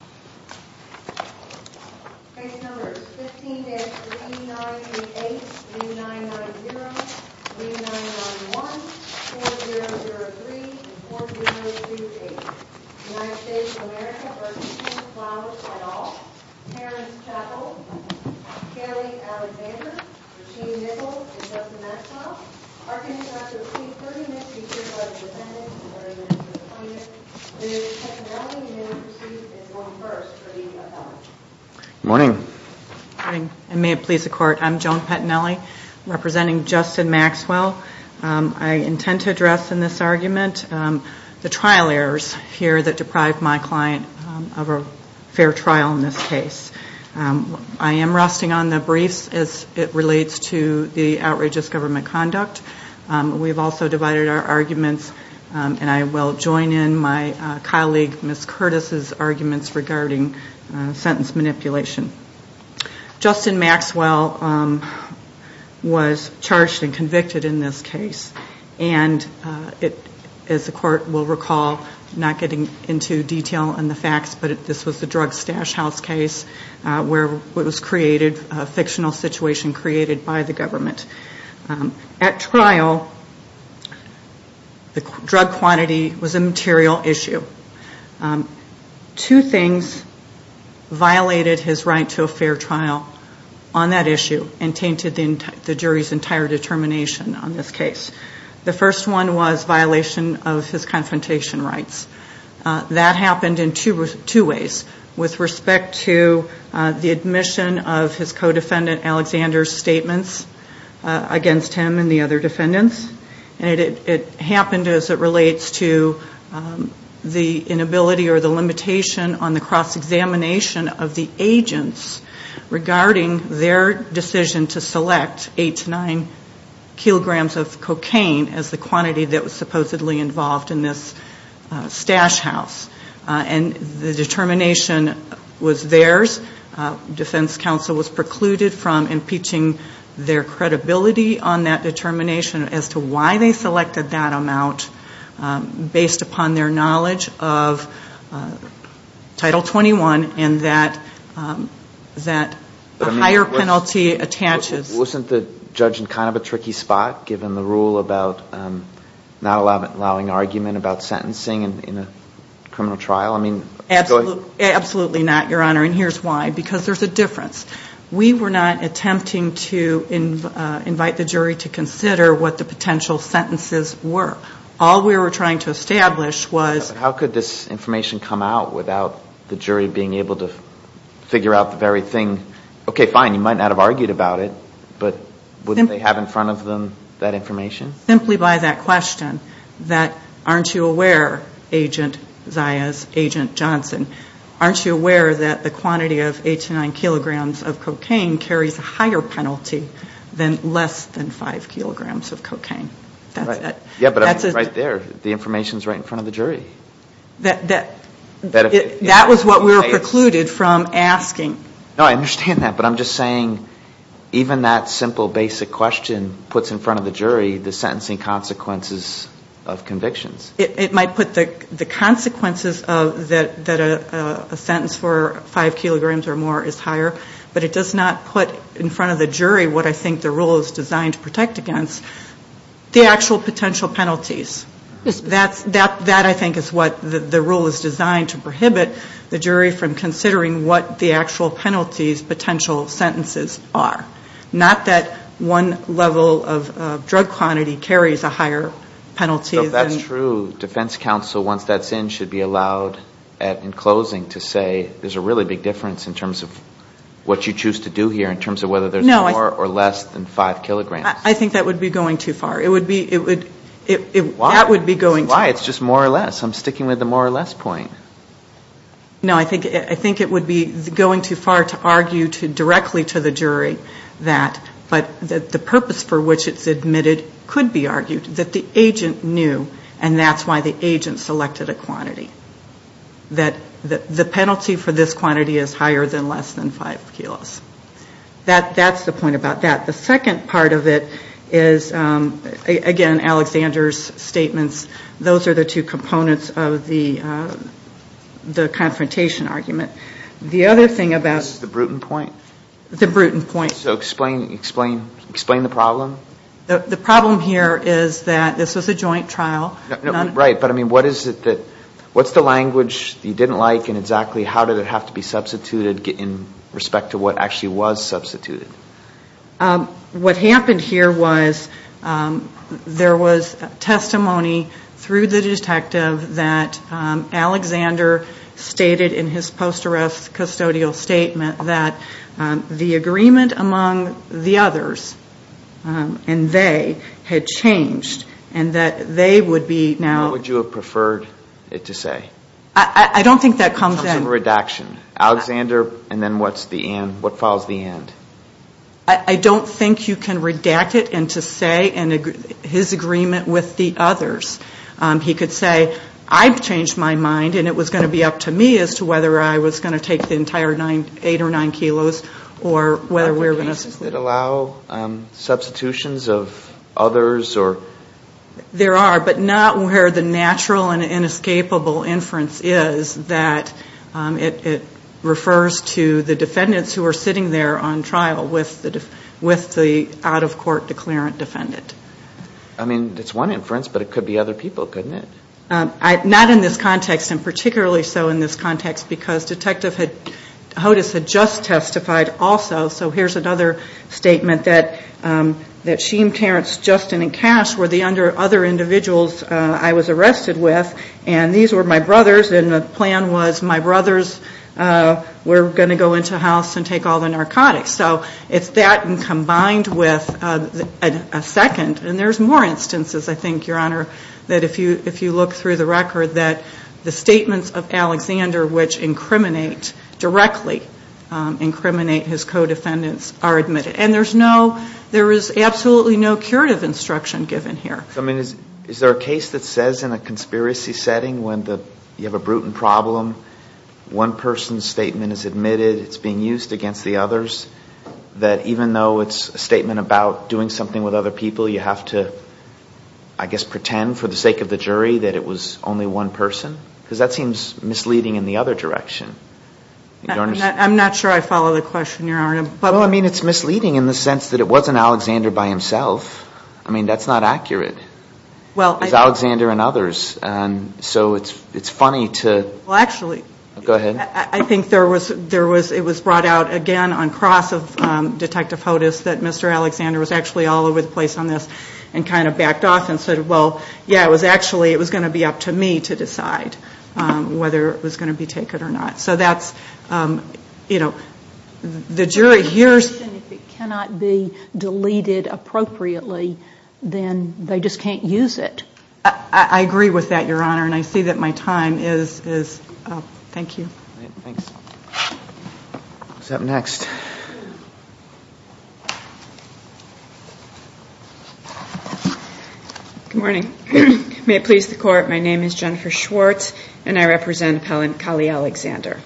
15-5988-9990-9911-4003-4028 United States of America v. Kenneth Flowers et al. Terrence Chappell Kelly Alexander Jeanne Nichols Justin Maxwell Arkansas v. Keith Thurman Good morning. I'm Joan Pettinelli representing Justin Maxwell. I intend to address in this argument the trial errors here that deprived my client of a fair trial in this case. I am resting on the briefs as it relates to the outrageous government conduct. We have also divided our arguments and I will join in my colleague Ms. Curtis' arguments regarding sentence manipulation. Justin Maxwell was charged and convicted in this case and as the court will recall, not getting into detail on the facts, but this was the drug stash house case where it was created, a fictional situation created by the government. At trial, the drug quantity was a material issue. Two things violated his right to a fair trial on that issue and tainted the jury's entire determination on this case. The first one was violation of his confrontation rights. That happened in two ways with respect to the admission of his co-defendant Alexander's statements against him and the other defendants. It happened as it relates to the inability or the limitation on the cross-examination of the agents regarding their decision to select eight to nine kilograms of cocaine as the quantity that was supposedly involved in this stash house. The determination was theirs. Defense counsel was precluded from impeaching their credibility on that determination as to why they selected that amount based upon their knowledge of Title 21 and that a higher penalty attaches. Wasn't the judge in kind of a tricky spot given the rule about not allowing argument about sentencing in a criminal trial? Absolutely not, Your Honor, and here's why. Because there's a difference. We were not attempting to invite the jury to consider what the potential sentences were. All we were trying to establish was... How could this information come out without the jury being able to figure out the very thing? Okay, fine, you might not have argued about it, but wouldn't they have in front of them that information? Simply by that question that aren't you aware, Agent Zayas, Agent Johnson, aren't you aware that the quantity of eight to nine kilograms of cocaine carries a higher penalty than less than five kilograms of cocaine? That's it. Yeah, but right there, the information's right in front of the jury. That was what we were precluded from asking. No, I understand that, but I'm just saying even that simple basic question puts in front of the jury the sentencing consequences of convictions. It might put the consequences that a sentence for five kilograms or more is higher, but it does not put in front of the jury what I think the rule is designed to protect against, the actual potential penalties. That, I think, is what the rule is designed to prohibit the jury from considering what the actual penalties, potential sentences are. Not that one level of drug quantity carries a higher penalty than... So if that's true, defense counsel, once that's in, should be allowed in closing to say there's a really big difference in terms of what you choose to do here, in terms of whether there's more or less than five kilograms. I think that would be going too far. Why? That would be going too far. Why? It's just more or less. I'm sticking with the more or less point. No, I think it would be going too far to argue directly to the jury that the purpose for which it's admitted could be argued, that the agent knew, and that's why the agent selected a quantity, that the penalty for this quantity is higher than less than five kilos. That's the point about that. The second part of it is, again, Alexander's statements, those are the two components of the confrontation argument. The other thing about... This is the Bruton point? The Bruton point. So explain the problem? The problem here is that this was a joint trial. Right, but what's the language you didn't like, and exactly how did it have to be substituted in respect to what actually was substituted? What happened here was there was testimony through the detective that Alexander stated in his post-arrest custodial statement that the agreement among the others, and they, had changed, and that they would be now... What would you have preferred it to say? I don't think that comes in... It comes in redaction. Alexander, and then what follows the end? I don't think you can redact it and to say his agreement with the others. He could say, I've changed my mind, and it was going to be up to me as to whether I was going to take the entire eight or nine kilos, or whether we were going to... Does it allow substitutions of others, or... There are, but not where the natural and inescapable inference is that it refers to the defendants who are sitting there on trial with the out-of-court declarant defendant. I mean, it's one inference, but it could be other people, couldn't it? Not in this context, and particularly so in this context, because Detective Hodes had just testified also, so here's another example. A statement that Sheem, Terrence, Justin, and Cash were the other individuals I was arrested with, and these were my brothers, and the plan was my brothers were going to go into a house and take all the narcotics. So, it's that, and combined with a second, and there's more instances, I think, Your Honor, that if you look through the record, that the statements of Alexander, which incriminate directly, incriminate his co-defendants, are admitted. And there's no, there is absolutely no curative instruction given here. I mean, is there a case that says in a conspiracy setting when you have a brutal problem, one person's statement is admitted, it's being used against the others, that even though it's a statement about doing something with other people, you have to, I guess, pretend for the sake of the jury that it was only one person? Because that seems misleading in the other direction. I'm not sure I follow the question, Your Honor. Well, I mean, it's misleading in the sense that it wasn't Alexander by himself. I mean, that's not accurate. It was Alexander and others, and so it's funny to... Well, actually... Go ahead. I think there was, it was brought out again on cross of Detective Hodes that Mr. Alexander was actually all over the place on this, and kind of backed off and said, well, yeah, it was actually, it was going to be up to me to decide whether it was going to be taken or not. So that's, you know, the jury hears... If it cannot be deleted appropriately, then they just can't use it. I agree with that, Your Honor, and I see that my time is up. Thank you. Thanks. Who's up next? Good morning. May it please the Court, my name is Jennifer Schwartz, and I represent Appellant Kali Alexander.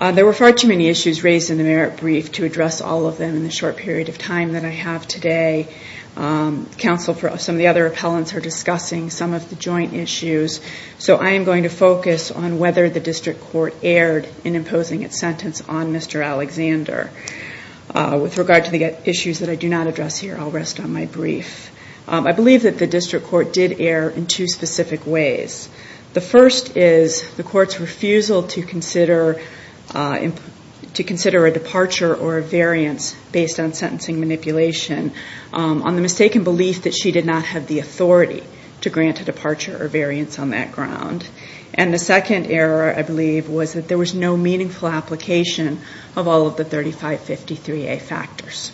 There were far too many issues raised in the merit brief to address all of them in the short period of time that I have today. Counsel for some of the other appellants are discussing some of the joint issues, so I am going to focus on whether the district court erred in imposing its sentence on Mr. Alexander. With regard to the issues that I do not address here, I'll rest on my brief. I believe that the district court did err in two specific ways. The first is the court's refusal to consider a departure or a variance based on sentencing manipulation on the mistaken belief that she did not have the authority to grant a departure or variance on that ground. And the second error, I believe, was that there was no meaningful application of all of the 3553A factors.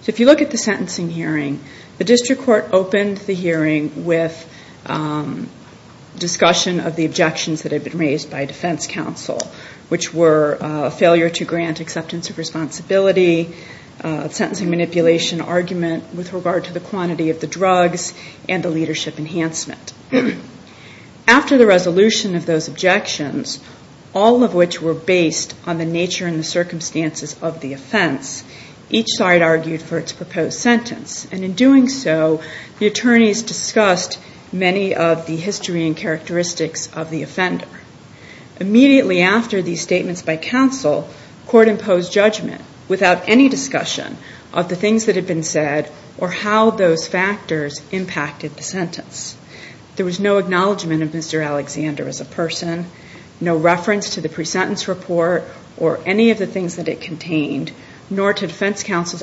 So if you look at the sentencing hearing, the district court opened the hearing with discussion of the objections that had been raised by defense counsel, which were failure to grant acceptance of responsibility, sentencing manipulation argument with regard to the quantity of the drugs, and the leadership enhancement. After the resolution of those objections, all of which were based on the nature and the circumstances of the offense, the district court did not make any changes to the sentencing hearing. Each side argued for its proposed sentence, and in doing so, the attorneys discussed many of the history and characteristics of the offender. Immediately after these statements by counsel, the court imposed judgment without any discussion of the things that had been said or how those factors impacted the sentence. There was no acknowledgment of Mr. Alexander as a person, no reference to the pre-sentence report or any of the things that it contained, nor to the fact that Mr. Alexander was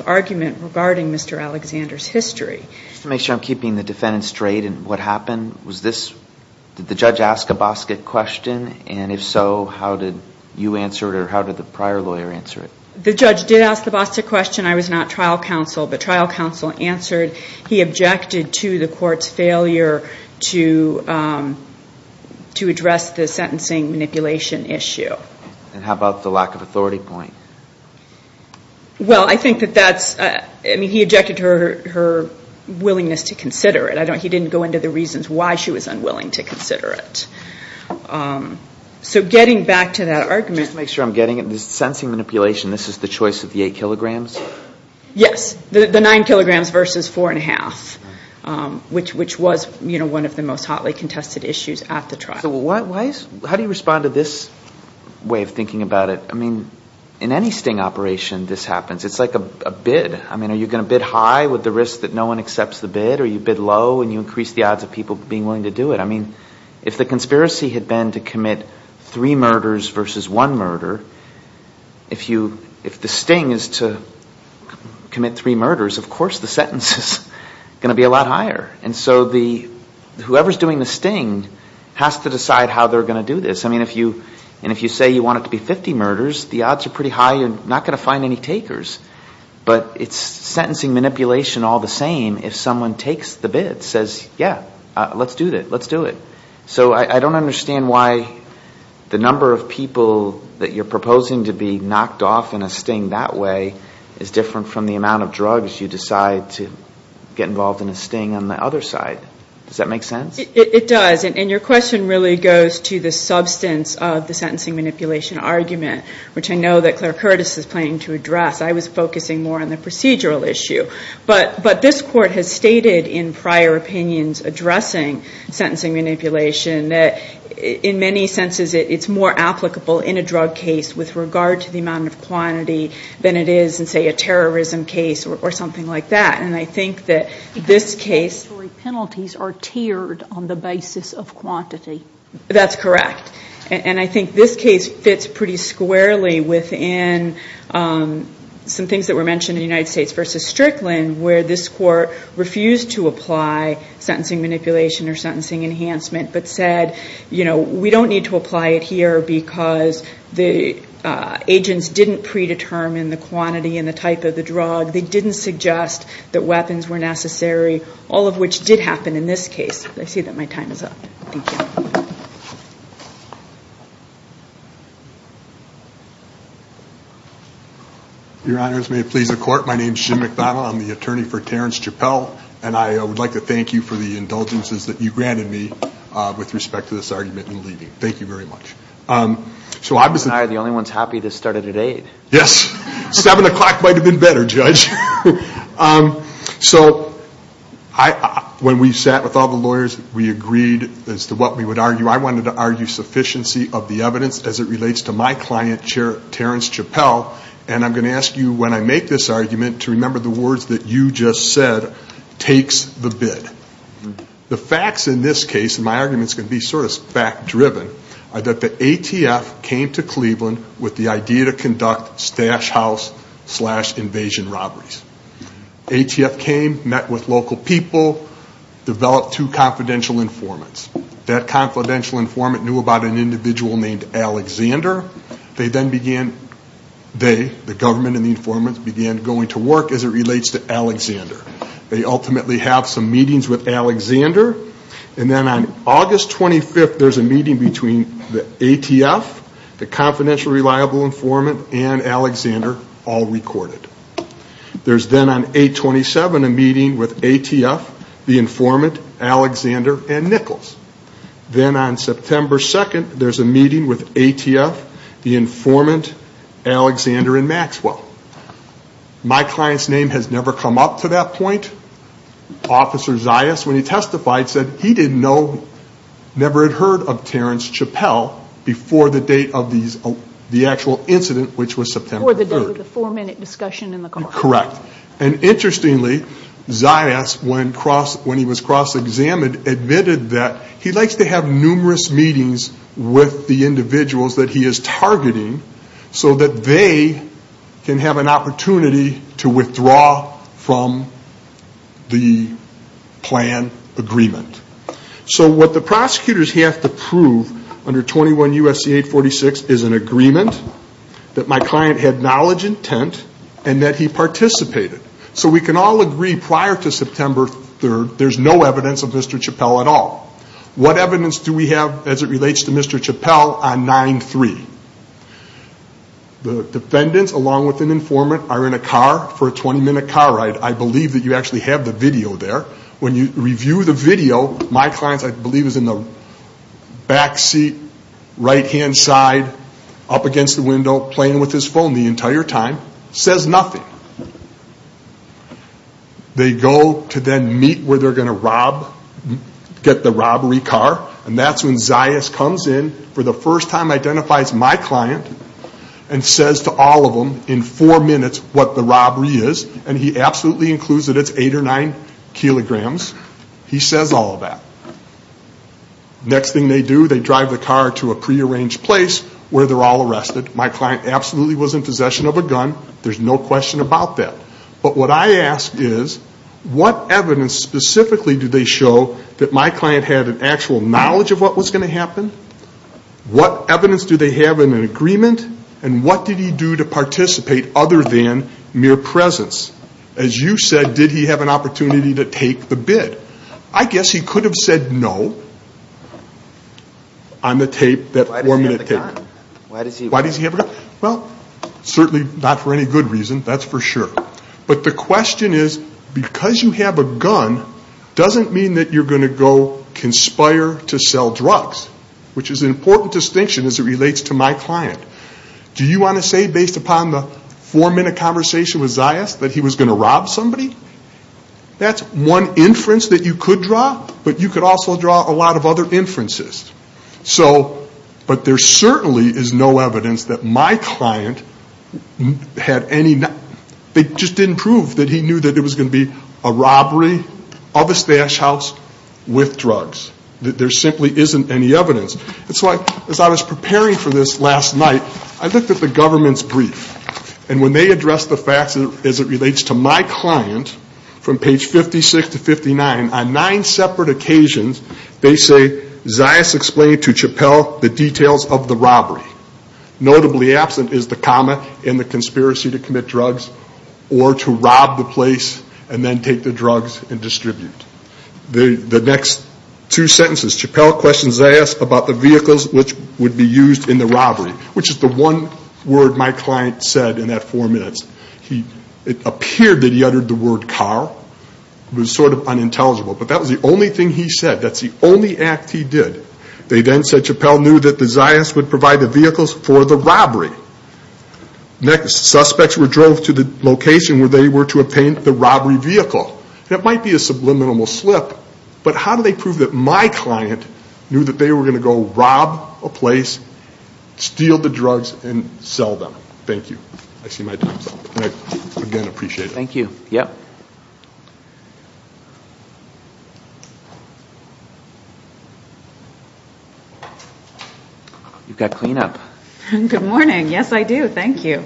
a defendant. There was no acknowledgment of the defense counsel's argument regarding Mr. Alexander's history. Just to make sure I'm keeping the defendant straight, did the judge ask a BOSCQA question, and if so, how did you answer it, or how did the prior lawyer answer it? The judge did ask the BOSCQA question. I was not trial counsel, but trial counsel answered. He objected to the court's failure to address the sentencing manipulation issue. And how about the lack of authority point? He objected to her willingness to consider it. He didn't go into the reasons why she was unwilling to consider it. Just to make sure I'm getting it, the sentencing manipulation, this is the choice of the eight kilograms? Yes, the nine kilograms versus four and a half, which was one of the most hotly contested issues at the trial. How do you respond to this way of thinking about it? I mean, in any sting operation, this happens. It's like a bid. I mean, are you going to bid high with the risk that no one accepts the bid, or you bid low and you increase the odds of people being willing to do it? I mean, if the conspiracy had been to commit three murders versus one murder, if the sting is to commit three murders, of course the sentence is going to be a lot higher. And so whoever is doing the sting has to decide how they're going to do this. I mean, if you say you want it to be 50 murders, the odds are pretty high you're not going to find any takers. But it's sentencing manipulation all the same if someone takes the bid, says, yeah, let's do it. So I don't understand why the number of people that you're proposing to be knocked off in a sting that way is different from the amount of drugs you decide to get involved in a sting on the other side. Does that make sense? It does. And your question really goes to the substance of the sentencing manipulation argument, which I know that Claire Curtis is planning to address. I was focusing more on the procedural issue. But this Court has stated in prior opinions addressing sentencing manipulation that in many senses it's more applicable in a drug case with regard to the amount of quantity than it is in, say, a terrorism case or something like that. And I think that this case... Because the statutory penalties are tiered on the basis of quantity. That's correct. And I think this case fits pretty squarely within some things that were mentioned in United States v. Strickland where this Court refused to apply sentencing manipulation or sentencing enhancement but said, you know, we don't need to apply it here because the agents didn't predetermine the quantity and the type of the drug. They didn't suggest that weapons were necessary. All of which did happen in this case. I see that my time is up. Thank you. Your Honors, may it please the Court. My name is Jim McDonough. I'm the attorney for Terrence Chappell. And I would like to thank you for the indulgences that you granted me with respect to this argument in leaving. Thank you very much. You and I are the only ones happy this started at 8. Yes. 7 o'clock might have been better, Judge. So when we sat with all the lawyers, we agreed as to what we would argue. I wanted to argue sufficiency of the evidence as it relates to my client, Terrence Chappell. And I'm going to ask you, when I make this argument, to remember the words that you just said, takes the bid. The facts in this case, and my argument is going to be sort of fact-driven. That the ATF came to Cleveland with the idea to conduct stash house slash invasion robberies. ATF came, met with local people, developed two confidential informants. That confidential informant knew about an individual named Alexander. They then began, they, the government and the informants, began going to work as it relates to Alexander. They ultimately have some meetings with Alexander. And then on August 25th, there's a meeting between the ATF, the confidential reliable informant, and Alexander, all recorded. There's then on 8-27, a meeting with ATF, the informant, Alexander, and Nichols. Then on September 2nd, there's a meeting with ATF, the informant, Alexander, and Maxwell. My client's name has never come up to that point. Officer Zayas, when he testified, said he didn't know, never had heard of Terrence Chappell before the date of the actual incident, which was September 3rd. Before the four-minute discussion in the court. Correct. And interestingly, Zayas, when he was cross-examined, admitted that he likes to have numerous meetings with the individuals that he is targeting. So that they can have an opportunity to withdraw from the case. The plan agreement. So what the prosecutors have to prove under 21 U.S.C. 846 is an agreement that my client had knowledge, intent, and that he participated. So we can all agree prior to September 3rd, there's no evidence of Mr. Chappell at all. What evidence do we have as it relates to Mr. Chappell on 9-3? The defendants, along with an informant, are in a car for a 20-minute car ride. I believe that you actually have the video there. When you review the video, my client, I believe, is in the back seat, right-hand side, up against the window, playing with his phone the entire time. Says nothing. They go to then meet where they're going to get the robbery car. And that's when Zayas comes in for the first time, identifies my client, and says to all of them in four minutes what the robbery is. And he absolutely includes that it's eight or nine kilograms. He says all of that. Next thing they do, they drive the car to a prearranged place where they're all arrested. My client absolutely was in possession of a gun. There's no question about that. But what I ask is, what evidence specifically do they show that my client had an actual knowledge of what was going to happen? What evidence do they have in an agreement? And what did he do to participate other than mere presence? As you said, did he have an opportunity to take the bid? I guess he could have said no on the tape, that four-minute tape. Why does he have a gun? Well, certainly not for any good reason, that's for sure. But the question is, because you have a gun, doesn't mean that you're going to go conspire to sell drugs, which is an important distinction as it relates to my client. Do you want to say, based upon the four-minute conversation with Zayas, that he was going to rob somebody? That's one inference that you could draw, but you could also draw a lot of other inferences. But there certainly is no evidence that my client had any... They just didn't prove that he knew that it was going to be a robbery of a stash house with drugs. There simply isn't any evidence. And so as I was preparing for this last night, I looked at the government's brief. And when they addressed the facts as it relates to my client, from page 56 to 59, on nine separate occasions, they say, Zayas explained to Chappell the details of the robbery. Notably absent is the comma in the conspiracy to commit drugs, or to rob the place and then take the drugs and distribute. The next two sentences, Chappell questions Zayas about the robbery. He asks about the vehicles which would be used in the robbery, which is the one word my client said in that four minutes. It appeared that he uttered the word car. It was sort of unintelligible, but that was the only thing he said. That's the only act he did. They then said Chappell knew that the Zayas would provide the vehicles for the robbery. Next, suspects drove to the location where they were to obtain the robbery vehicle. That might be a subliminal slip, but how do they prove that my client knew that they were going to go rob a place, steal the drugs, and sell them? Thank you. I see my time's up. You've got clean up. Good morning. Yes, I do. Thank you.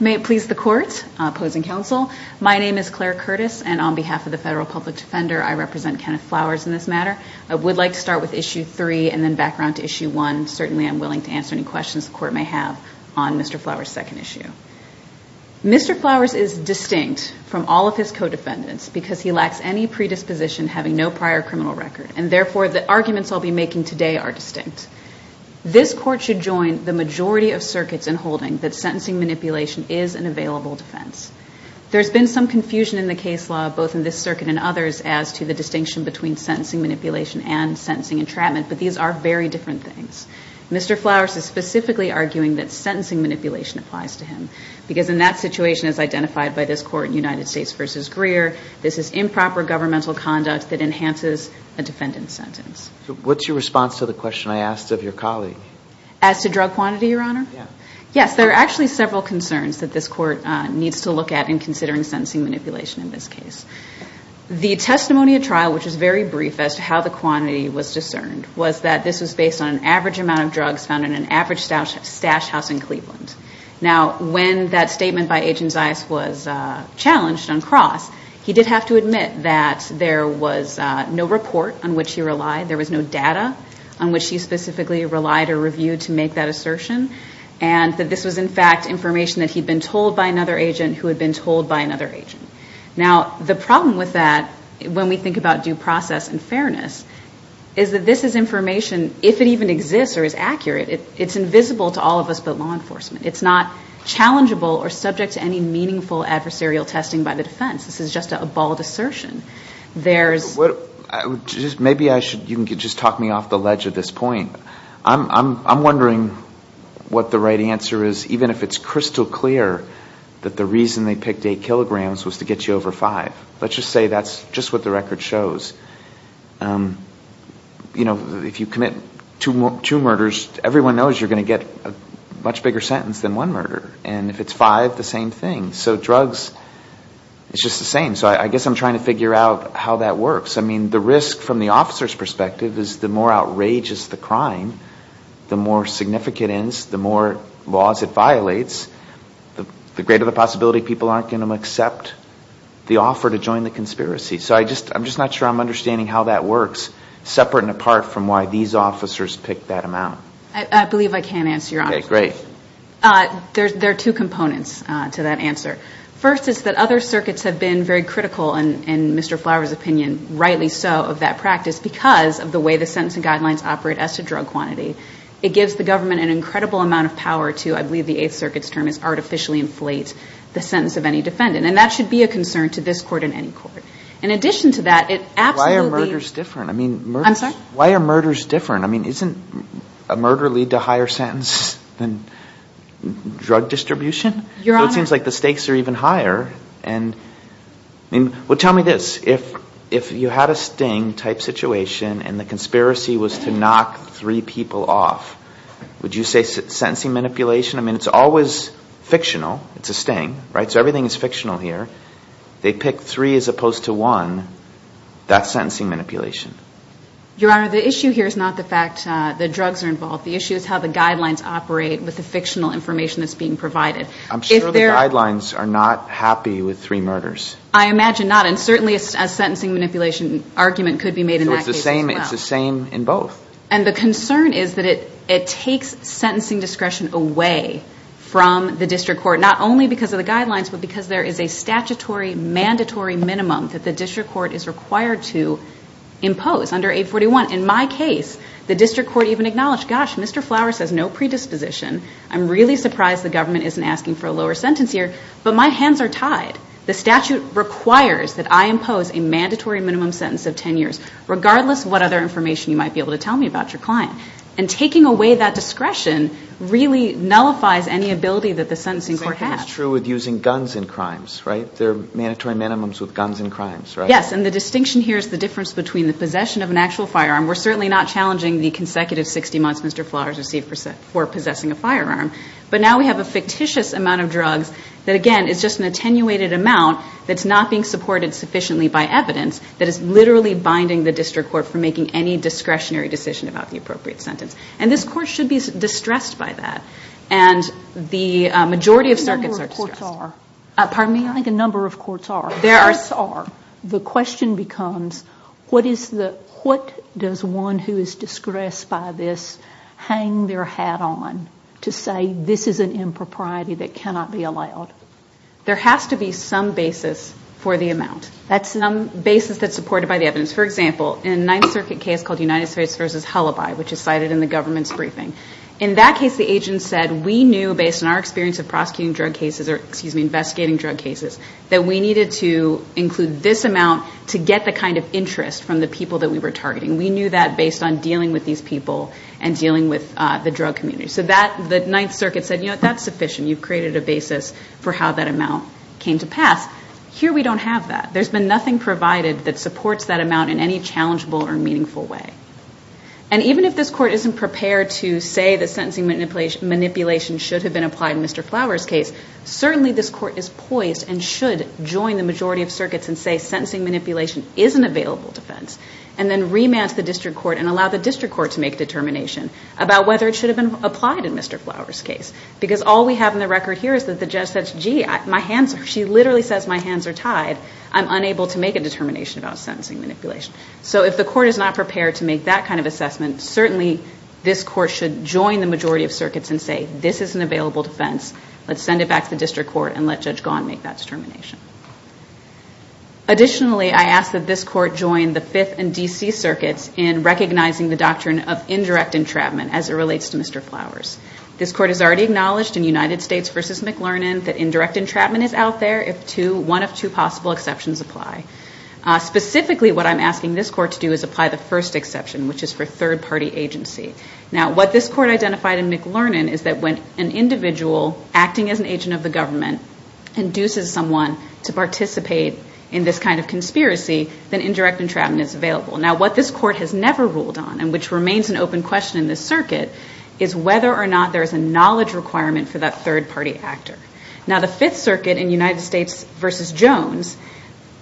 May it please the court, opposing counsel. My name is Claire Curtis, and on behalf of the Federal Public Defender, I represent Kenneth Flowers in this matter. I would like to start with Issue 3 and then back around to Issue 1. Certainly I'm willing to answer any questions the court may have on Mr. Flowers' second issue. Mr. Flowers is distinct from all of his co-defendants because he lacks any predisposition having no prior criminal record, and therefore the arguments I'll be making today are distinct. This court should join the majority of circuits in holding that sentencing manipulation is an available defense. There's been some confusion in the case law, both in this circuit and others, as to the distinction between sentencing manipulation and sentencing entrapment, but these are very different things. Mr. Flowers is specifically arguing that sentencing manipulation applies to him because in that situation, as identified by this court in United States v. Greer, this is improper governmental conduct that enhances a defendant's sentence. What's your response to the question I asked of your colleague? As to drug quantity, Your Honor? Yes, there are actually several concerns that this court needs to look at in considering sentencing manipulation in this case. The testimony at trial, which is very brief as to how the quantity was discerned, was that this was based on an average amount of drugs found in an average stash house in Cleveland. Now, when that statement by Agent Zias was challenged on cross, he did have to admit that there was no report on which he relied, there was no data on which he specifically relied or reviewed to make that assertion, and that this was, in fact, information that he'd been told by another agent who had been told by another agent. Now, the problem with that, when we think about due process and fairness, is that this is information, if it even exists or is accurate, it's invisible to all of us but law enforcement. It's not challengeable or subject to any meaningful adversarial testing by the defense. This is just a bald assertion. There's... Maybe you can just talk me off the ledge at this point. I'm wondering what the right answer is, even if it's crystal clear that the reason they picked eight kilograms was to get you over five. Let's just say that's just what the record shows. You know, if you commit two murders, everyone knows you're going to get a much bigger sentence than one murder. And if it's five, the same thing. So drugs, it's just the same. So I guess I'm trying to figure out how that works. I mean, the risk, from the officer's perspective, is the more outrageous the crime, the more significant it is, the more laws it violates, the greater the possibility people aren't going to accept the offer to join the conspiracy. So I'm just not sure I'm understanding how that works, separate and apart from why these officers picked that amount. I believe I can answer your question. There are two components to that answer. First is that other circuits have been very critical, in Mr. Flower's opinion, rightly so, of that practice because of the way the sentencing guidelines operate as to drug quantity. It gives the government an incredible amount of power to, I believe the Eighth Circuit's term is, artificially inflate the sentence of any defendant. And that should be a concern to this court and any court. In addition to that, it absolutely... Why are murders different? I mean, isn't a murder lead to a higher sentence than drug distribution? So it seems like the stakes are even higher. Well, tell me this. If you had a sting-type situation and the conspiracy was to knock three people off, would you say sentencing manipulation? I mean, it's always fictional. It's a sting, right? So everything is fictional here. They pick three as opposed to one. That's sentencing manipulation. Your Honor, the issue here is not the fact that drugs are involved. The issue is how the guidelines operate with the fictional information that's being provided. I'm sure the guidelines are not happy with three murders. I imagine not, and certainly a sentencing manipulation argument could be made in that case as well. It's the same in both. And the concern is that it takes sentencing discretion away from the district court, not only because of the guidelines, but because there is a statutory mandatory minimum that the district court is required to impose under 841. In my case, the district court even acknowledged, gosh, Mr. Flower says no predisposition. I'm really surprised the government isn't asking for a lower sentence here, but my hands are tied. The statute requires that I impose a mandatory minimum sentence of 10 years, regardless of what other information you might be able to tell me about your client. And taking away that discretion really nullifies any ability that the sentencing court has. It's the same thing that's true with using guns in crimes, right? There are mandatory minimums with guns in crimes, right? Yes, and the distinction here is the difference between the possession of an actual firearm. We're certainly not challenging the consecutive 60 months Mr. Flowers received for possessing a firearm. But now we have a fictitious amount of drugs that, again, is just an attenuated amount that's not being supported sufficiently by evidence that is literally binding the district court from making any discretionary decision about the appropriate sentence. And this court should be distressed by that. And the majority of circuits are distressed. I think a number of courts are. The question becomes, what does one who is distressed by this hang their hat on to say this is an impropriety that cannot be allowed? There has to be some basis for the amount. That's some basis that's supported by the evidence. For example, in a Ninth Circuit case called United States v. Hullabye, which is cited in the government's briefing, in that case the agent said we knew based on our experience of prosecuting drug cases that we needed to include this amount to get the kind of interest from the people that we were targeting. We knew that based on dealing with these people and dealing with the drug community. So the Ninth Circuit said that's sufficient. You've created a basis for how that amount came to pass. Here we don't have that. There's been nothing provided that supports that amount in any challengeable or meaningful way. Even if this Court isn't prepared to say that sentencing manipulation should have been applied in Mr. Flower's case, certainly this Court is poised and should join the majority of circuits and say sentencing manipulation is an available defense and then remand to the district court and allow the district court to make a determination about whether it should have been applied in Mr. Flower's case. Because all we have in the record here is that the judge says, gee, she literally says my hands are tied. I'm unable to make a determination about sentencing manipulation. So if the Court is not prepared to make that kind of assessment, certainly this Court should join the majority of circuits and say this is an available defense. Let's send it back to the district court and let Judge Gaughan make that determination. Additionally, I ask that this Court join the Fifth and D.C. Circuits in recognizing the doctrine of indirect entrapment as it relates to Mr. Flower's. This Court has already acknowledged in United States v. McLernon that indirect entrapment is out there if one of two possible exceptions apply. Specifically, what I'm asking this Court to do is apply the first exception, which is for third-party agency. Now, what this Court identified in McLernon is that when an individual acting as an agent of the government induces someone to participate in this kind of conspiracy, then indirect entrapment is available. Now, what this Court has never ruled on, and which remains an open question in this circuit, is whether or not there is a knowledge requirement for that third-party actor. Now, the Fifth Circuit in United States v. Jones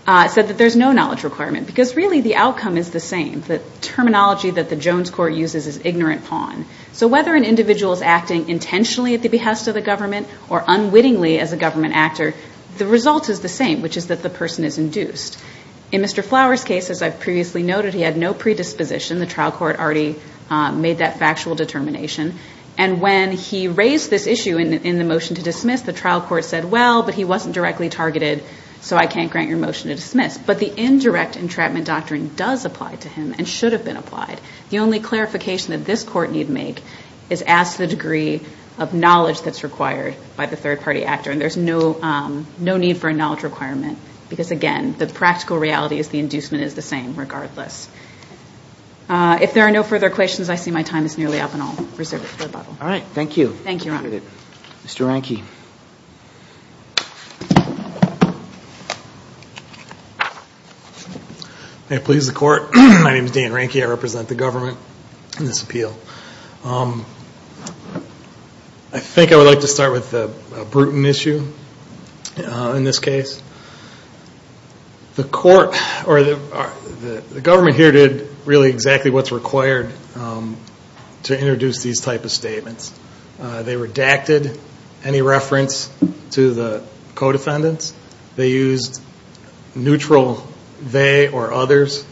said that there's no knowledge requirement, because really the outcome is the same. The terminology that the Jones Court uses is ignorant pawn. So whether an individual is acting intentionally at the behest of the government or unwittingly as a government actor, the result is the same, which is that the person is induced. In Mr. Flower's case, as I've previously noted, he had no predisposition. The trial court already made that factual determination. And when he raised this issue in the motion to dismiss, the trial court said, well, but he wasn't directly targeted, so I can't grant your motion to dismiss. But the indirect entrapment doctrine does apply to him and should have been applied. The only clarification that this Court need make is ask the degree of knowledge that's required by the third-party actor. And there's no need for a knowledge requirement, because again, the practical reality is the inducement is the same, regardless. If there are no further questions, I see my time is nearly up, and I'll reserve it for the Bible. All right, thank you. Thank you, Your Honor. Mr. Ranke. May it please the Court. My name is Dan Ranke. I represent the government in this appeal. I think I would like to start with a brutal issue in this case. The Court or the government here did really exactly what's required to introduce these type of statements. They redacted any reference to the co-defendants. They used neutral they or others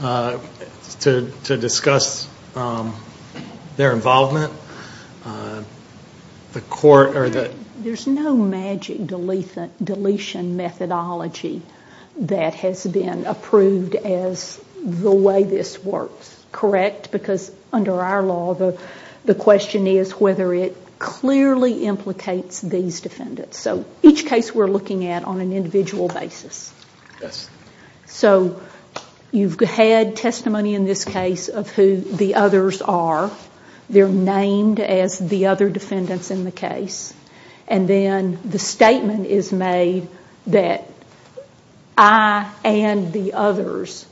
to discuss their involvement. There's no magic deletion methodology that has been approved as the way this works, correct? Because under our law, the question is whether it clearly implicates these defendants. So each case we're looking at on an individual basis. So you've had testimony in this case of who the others are. They're named as the other defendants in the case. And then the statement is made that I and the others,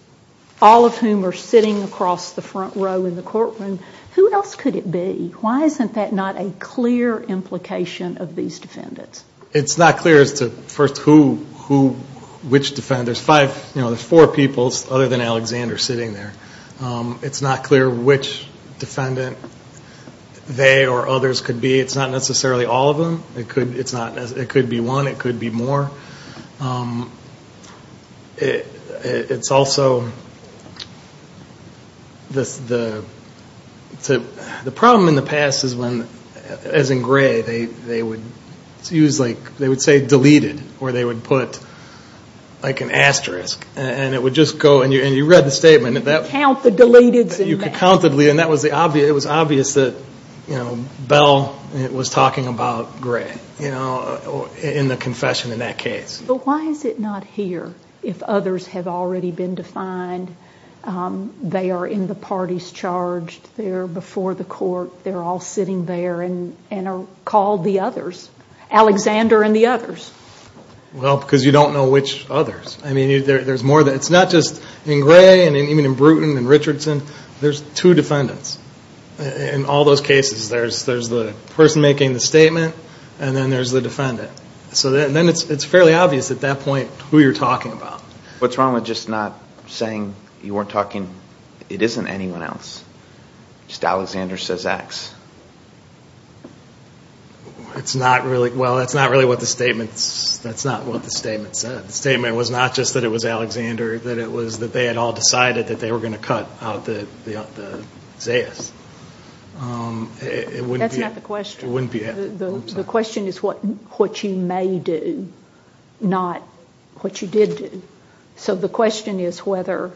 all of whom are sitting across the front row in the courtroom, who else could it be? Why isn't that not a clear implication of these defendants? It's not clear as to first who, which defendants. There's four people other than Alexander sitting there. It's not clear which defendant they or others could be. It's not necessarily all of them. It could be one. It could be more. It's also the problem in the past is when, as in Gray, they would use like, they would say deleted. Or they would put like an asterisk. And it would just go, and you read the statement. You could count the deleted. And it was obvious that Bell was talking about Gray in the confession in that case. But why is it not here if others have already been defined? They are in the parties charged. They're before the court. They're all sitting there and are called the others, Alexander and the others. Well, because you don't know which others. I mean, there's more than that. It's not just in Gray and even in Bruton and Richardson. There's two defendants in all those cases. There's the person making the statement, and then there's the defendant. So then it's fairly obvious at that point who you're talking about. What's wrong with just not saying you weren't talking? It isn't anyone else. Just Alexander says X. It's not really. Well, that's not really what the statement said. The statement was not just that it was Alexander, that it was that they had all decided that they were going to cut out the Zayas. That's not the question. It wouldn't be. The question is what you may do, not what you did do. So the question is whether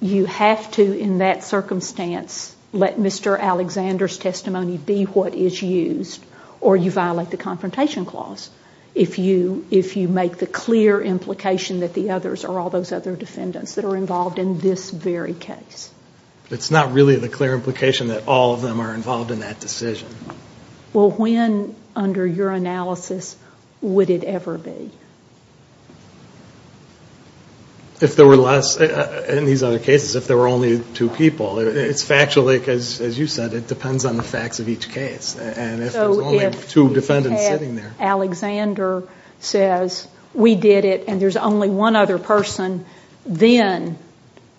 you have to, in that circumstance, let Mr. Alexander's testimony be what is used, or you violate the Confrontation Clause. If you make the clear implication that the others are all those other defendants that are involved in this very case. It's not really the clear implication that all of them are involved in that decision. Well, when, under your analysis, would it ever be? If there were less, in these other cases, if there were only two people. It's factually, as you said, it depends on the facts of each case. And if there's only two defendants sitting there. So if you had Alexander says, we did it and there's only one other person, then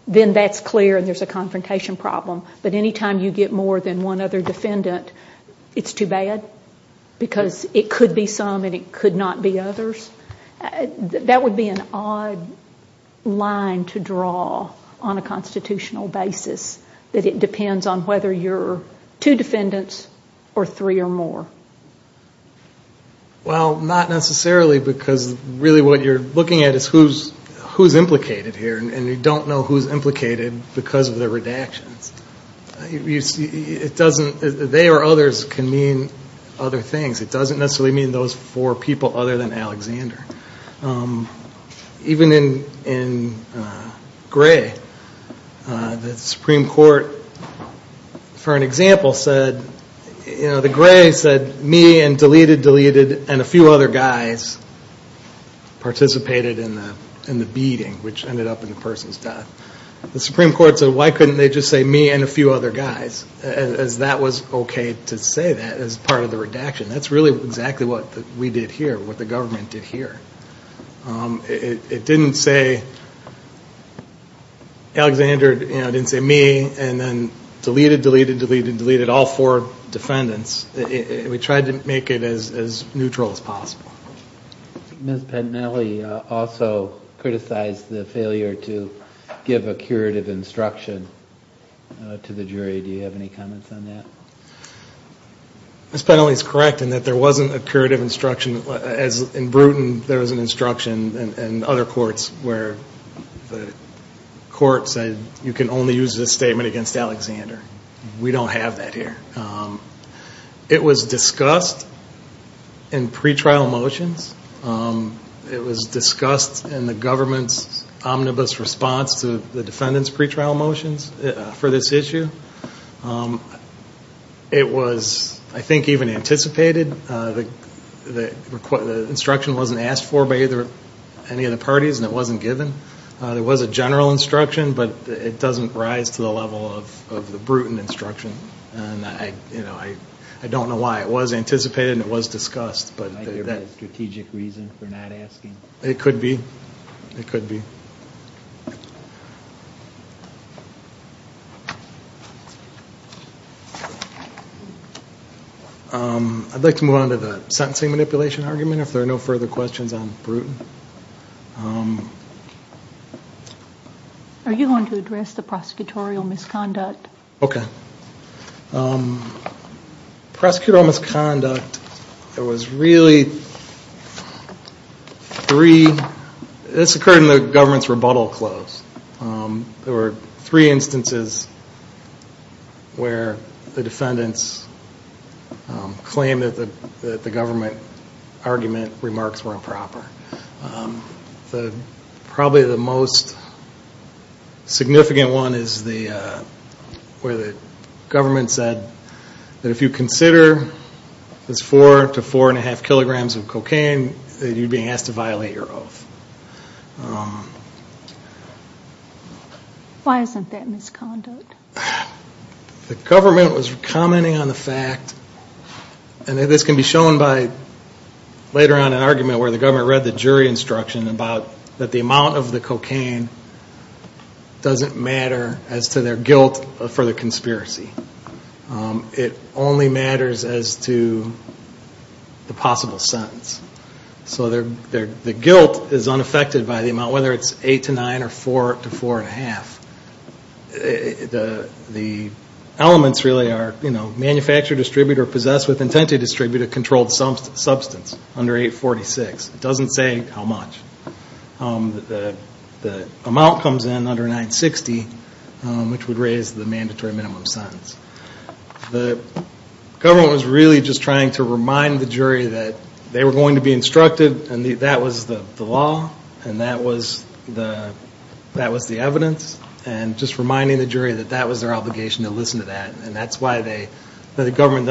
that's clear and there's a confrontation problem. But any time you get more than one other defendant, it's too bad? Because it could be some and it could not be others? That would be an odd line to draw on a constitutional basis, that it depends on whether you're two defendants or three or more? Well, not necessarily because really what you're looking at is who's implicated here. And you don't know who's implicated because of the redactions. It doesn't, they or others can mean other things. It doesn't necessarily mean those four people other than Alexander. Even in Gray, the Supreme Court, for an example, said, you know, the Gray said me and deleted, deleted and a few other guys participated in the beating, which ended up in the person's death. The Supreme Court said, why couldn't they just say me and a few other guys? As that was okay to say that as part of the redaction. That's really exactly what we did here, what the government did here. It didn't say Alexander, it didn't say me, and then deleted, deleted, deleted, deleted all four defendants. We tried to make it as neutral as possible. Ms. Pennelly also criticized the failure to give a curative instruction to the jury. Do you have any comments on that? Ms. Pennelly is correct in that there wasn't a curative instruction. In Brewton, there was an instruction in other courts where the court said, you can only use this statement against Alexander. We don't have that here. It was discussed in pretrial motions. It was discussed in the government's omnibus response to the defendant's pretrial motions for this issue. It was, I think, even anticipated. The instruction wasn't asked for by any of the parties and it wasn't given. There was a general instruction, but it doesn't rise to the level of the Brewton instruction. I don't know why. It was anticipated and it was discussed. Is there a strategic reason for not asking? It could be. It could be. I'd like to move on to the sentencing manipulation argument if there are no further questions on Brewton. Are you going to address the prosecutorial misconduct? Okay. Prosecutorial misconduct, there was really three. This occurred in the government's rebuttal close. There were three instances where the defendants claimed that the government argument remarks were improper. Probably the most significant one is where the government said that if you consider this 4 to 4.5 kilograms of cocaine, then you're being asked to violate your oath. Why isn't that misconduct? The government was commenting on the fact, and this can be shown by later on in an argument where the government read the jury instruction about that the amount of the cocaine doesn't matter as to their guilt for the conspiracy. It only matters as to the possible sentence. The guilt is unaffected by the amount, whether it's 8 to 9 or 4 to 4.5. The elements really are manufacture, distribute, or possess with intent to distribute a controlled substance under 846. It doesn't say how much. The amount comes in under 960, which would raise the mandatory minimum sentence. The government was really just trying to remind the jury that they were going to be instructed, and that was the law, and that was the evidence. And just reminding the jury that that was their obligation to listen to that. And that's why the government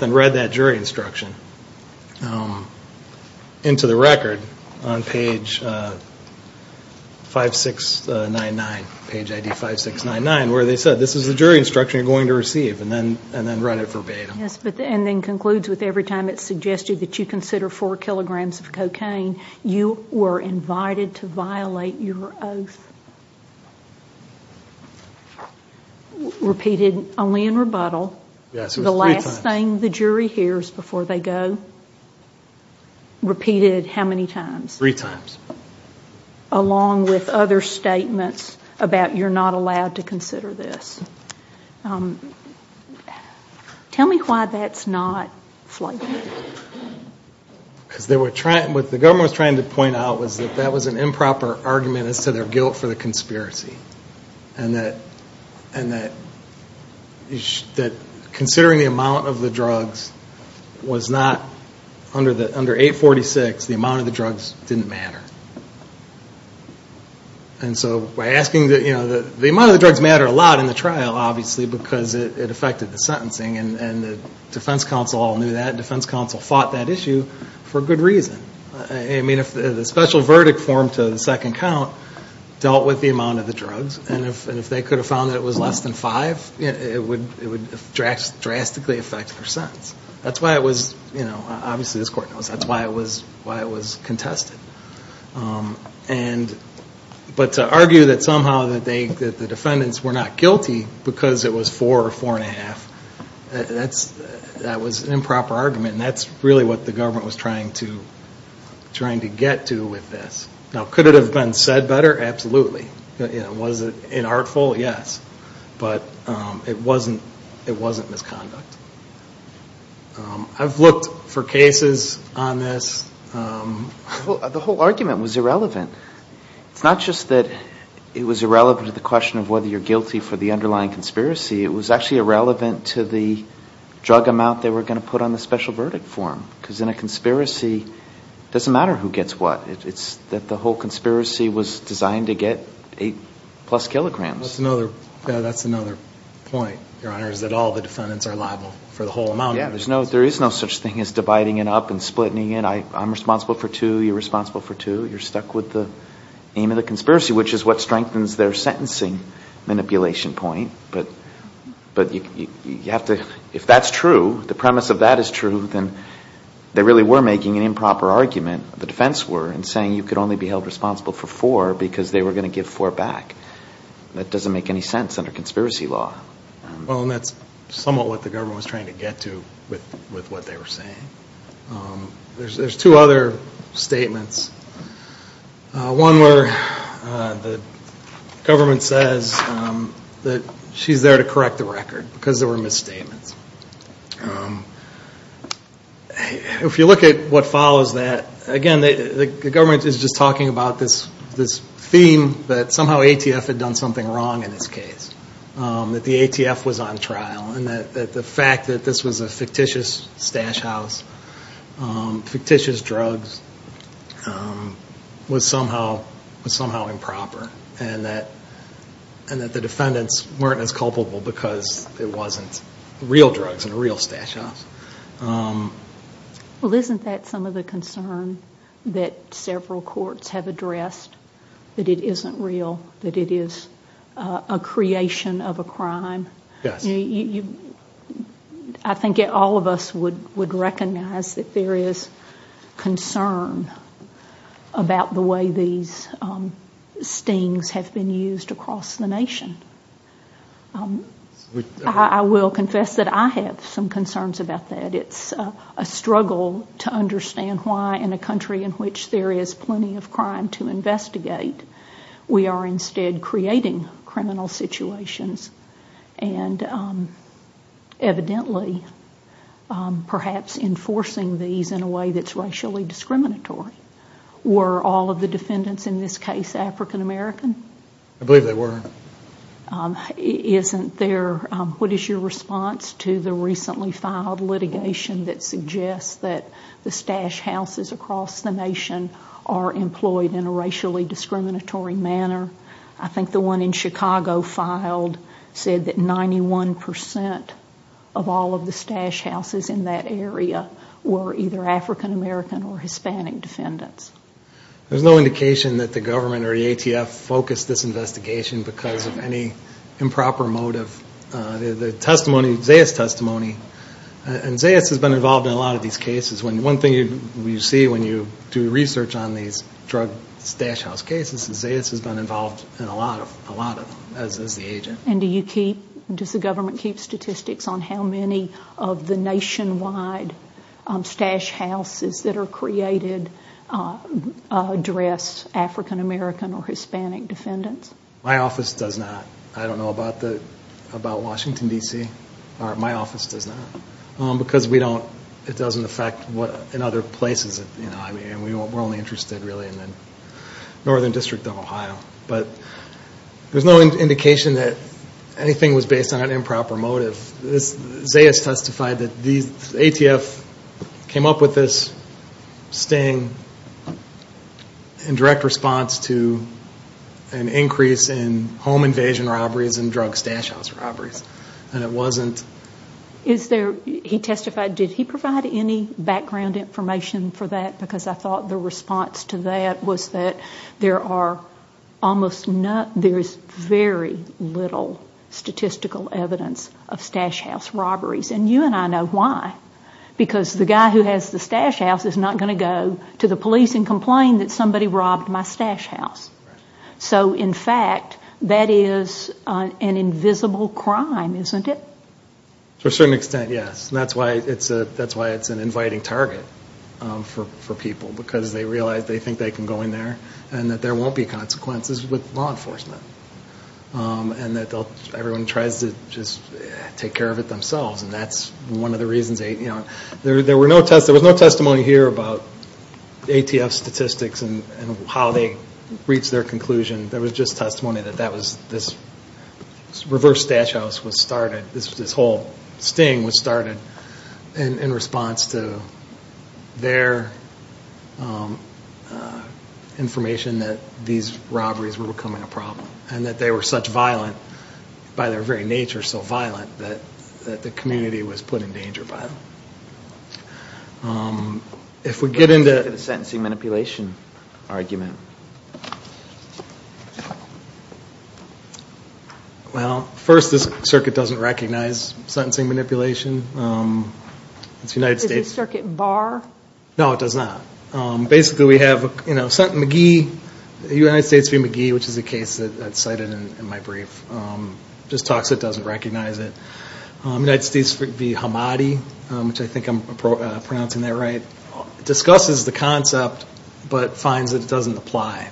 then read that jury instruction into the record on page 5699, where they said this is the jury instruction you're going to receive, and then read it verbatim. And then concludes with every time it's suggested that you consider 4 kilograms of cocaine, you were invited to violate your oath. Repeated only in rebuttal. The last thing the jury hears before they go, repeated how many times? Three times. Along with other statements about you're not allowed to consider this. Tell me why that's not flagrant. Because what the government was trying to point out was that that was an improper argument as to their guilt for the conspiracy. And that considering the amount of the drugs was not under 846, the amount of the drugs didn't matter. And so by asking that, you know, the amount of the drugs matter a lot in the trial, obviously, because it affected the sentencing. And the defense counsel all knew that. Defense counsel fought that issue for good reason. I mean, if the special verdict form to the second count dealt with the amount of the drugs, and if they could have found that it was less than 5, it would drastically affect their sentence. That's why it was, you know, obviously this court knows, that's why it was contested. But to argue that somehow the defendants were not guilty because it was four or four and a half, that was an improper argument. And that's really what the government was trying to get to with this. Now, could it have been said better? Absolutely. Was it inartful? Yes. But it wasn't misconduct. I've looked for cases on this. The whole argument was irrelevant. It's not just that it was irrelevant to the question of whether you're guilty for the underlying conspiracy. It was actually irrelevant to the drug amount they were going to put on the special verdict form. Because in a conspiracy, it doesn't matter who gets what. It's that the whole conspiracy was designed to get eight plus kilograms. That's another point, Your Honor, is that all the defendants are liable for the whole amount. Yeah, there is no such thing as dividing it up and splitting it. I'm responsible for two. You're responsible for two. You're stuck with the aim of the conspiracy, which is what strengthens their sentencing manipulation point. But if that's true, the premise of that is true, then they really were making an improper argument, the defense were, in saying you could only be held responsible for four because they were going to give four back. That doesn't make any sense under conspiracy law. Well, and that's somewhat what the government was trying to get to with what they were saying. There's two other statements. One where the government says that she's there to correct the record because there were misstatements. If you look at what follows that, again, the government is just talking about this theme that somehow ATF had done something wrong in this case. That ATF was on trial and that the fact that this was a fictitious stash house, fictitious drugs, was somehow improper. And that the defendants weren't as culpable because it wasn't real drugs in a real stash house. Well, isn't that some of the concern that several courts have addressed, that it isn't real, that it is a creation of a crime? I think all of us would recognize that there is concern about the way these stings have been used across the nation. I will confess that I have some concerns about that. It's a struggle to understand why in a country in which there is plenty of crime to investigate, we are instead creating criminal situations. And evidently, perhaps enforcing these in a way that's racially discriminatory. Were all of the defendants in this case African American? I believe they were. Isn't there, what is your response to the recently filed litigation that suggests that the stash houses across the nation are employed in a racially discriminatory manner? I think the one in Chicago filed said that 91% of all of the stash houses in that area were either African American or Hispanic defendants. There's no indication that the government or the ATF focused this investigation because of any improper motive. The testimony, Zayas' testimony, and Zayas has been involved in a lot of these cases. One thing you see when you do research on these drug stash house cases is Zayas has been involved in a lot of them as the agent. And does the government keep statistics on how many of the nationwide stash houses that are created address African American or Hispanic defendants? My office does not. I don't know about Washington, D.C. My office does not. Because it doesn't affect in other places. We're only interested really in the northern district of Ohio. But there's no indication that anything was based on an improper motive. Zayas testified that the ATF came up with this sting in direct response to an increase in home invasion robberies and drug stash house robberies. And it wasn't... He testified, did he provide any background information for that? Because I thought the response to that was that there is very little statistical evidence of stash house robberies. And you and I know why. Because the guy who has the stash house is not going to go to the police and complain that somebody robbed my stash house. So in fact, that is an invisible crime, isn't it? To a certain extent, yes. And that's why it's an inviting target for people. Because they realize they think they can go in there and that there won't be consequences with law enforcement. And that everyone tries to just take care of it themselves. And that's one of the reasons... There was no testimony here about ATF statistics and how they reached their conclusion. There was just testimony that this reverse stash house was started. This whole sting was started in response to their information that these robberies were becoming a problem. And that they were such violent, by their very nature so violent, that the community was put in danger by them. If we get into the sentencing manipulation argument. Well, first this circuit doesn't recognize sentencing manipulation. Is this circuit bar? No, it does not. Basically we have McGee, the United States v. McGee, which is a case that's cited in my brief. Just talks it doesn't recognize it. United States v. Hamadi, which I think I'm pronouncing that right. Discusses the concept, but finds that it doesn't apply.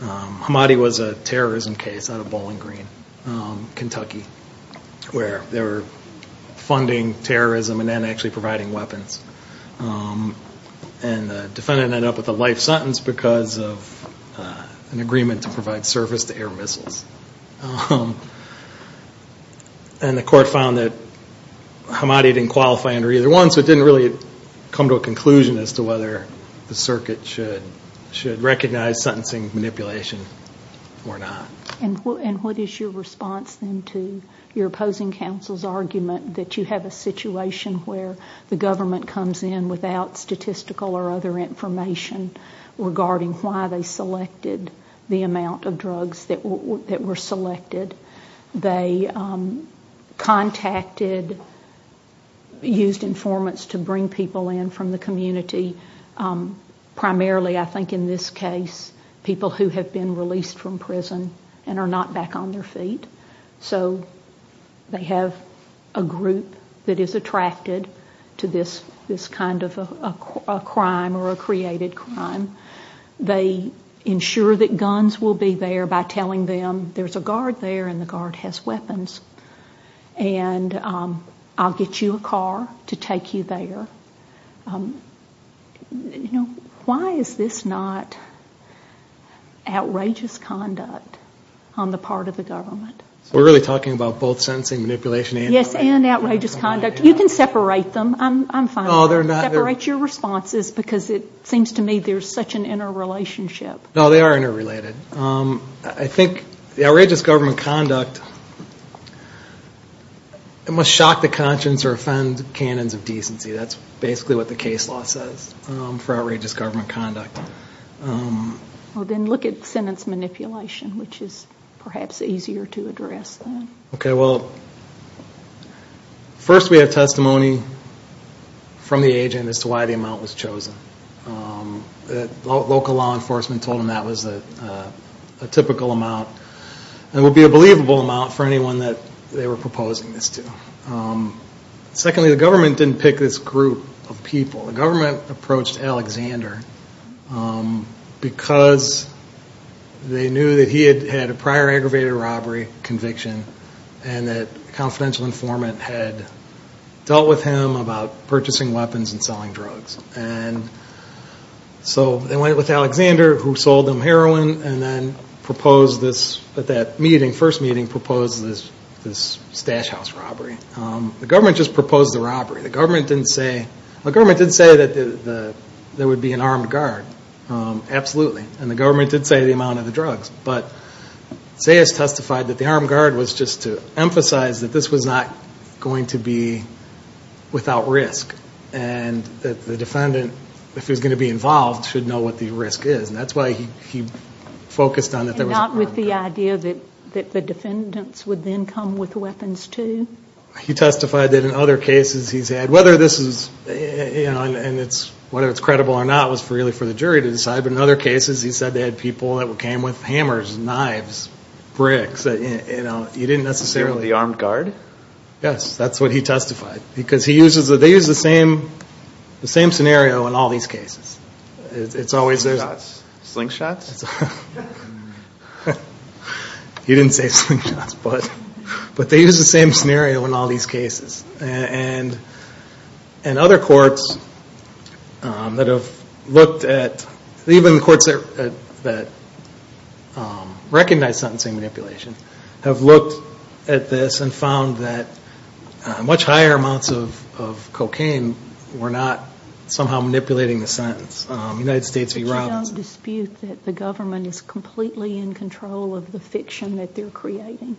Hamadi was a terrorism case out of Bowling Green, Kentucky, where they were funding terrorism and then actually providing weapons. And the defendant ended up with a life sentence because of an agreement to provide service to air missiles. And the court found that Hamadi didn't qualify under either one, so it didn't really come to a conclusion as to whether the circuit should recognize sentencing manipulation or not. And what is your response then to your opposing counsel's argument that you have a situation where the government comes in without statistical or other information regarding why they selected the amount of drugs that were selected? They contacted, used informants to bring people in from the community, primarily I think in this case, people who have been released from prison and are not back on their feet. So they have a group that is attracted to this kind of a crime or a created crime. They ensure that guns will be there by telling them there's a guard there and the guard has weapons and I'll get you a car to take you there. Why is this not outrageous conduct on the part of the government? We're really talking about both sentencing manipulation and outrageous conduct. You can separate them. I'm fine with that. Separate your responses because it seems to me there's such an interrelationship. No, they are interrelated. I think the outrageous government conduct must shock the conscience or offend canons of decency. That's basically what the case law says for outrageous government conduct. Then look at sentence manipulation, which is perhaps easier to address. First we have testimony from the agent as to why the amount was chosen. Local law enforcement told him that was a typical amount. It would be a believable amount for anyone they were proposing this to. Secondly, the government didn't pick this group of people. The government approached Alexander because they knew he had a prior aggravated robbery conviction and that a confidential informant had dealt with him about purchasing weapons and selling drugs. So they went with Alexander, who sold them heroin, and then at that first meeting proposed this stash house robbery. The government just proposed the robbery. The government did say there would be an armed guard. Absolutely. And the government did say the amount of the drugs. But Zayas testified that the armed guard was just to emphasize that this was not going to be without risk. And that the defendant, if he was going to be involved, should know what the risk is. And that's why he focused on that there was an armed guard. Because he said they had people that came with hammers, knives, bricks. You didn't necessarily... Yes, that's what he testified. Because they use the same scenario in all these cases. Slingshots? He didn't say slingshots. But they use the same scenario in all these cases. And other courts that have looked at, even the courts that recognize sentencing manipulation, have looked at this and found that much higher amounts of cocaine were not somehow manipulating the sentence. But you don't dispute that the government is completely in control of the fiction that they're creating?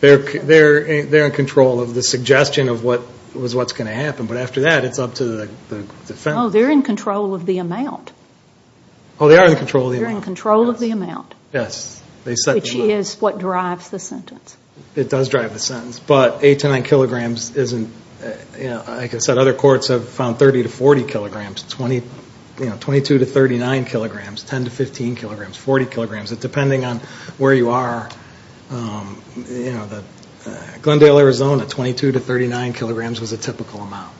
They're in control of the suggestion of what's going to happen. But after that, it's up to the defendant. Oh, they're in control of the amount. Yes. Which is what drives the sentence. It does drive the sentence. But 8 to 9 kilograms isn't... Like I said, other courts have found 30 to 40 kilograms, 22 to 39 kilograms, 10 to 15 kilograms, 40 kilograms. Depending on where you are. Glendale, Arizona, 22 to 39 kilograms was a typical amount.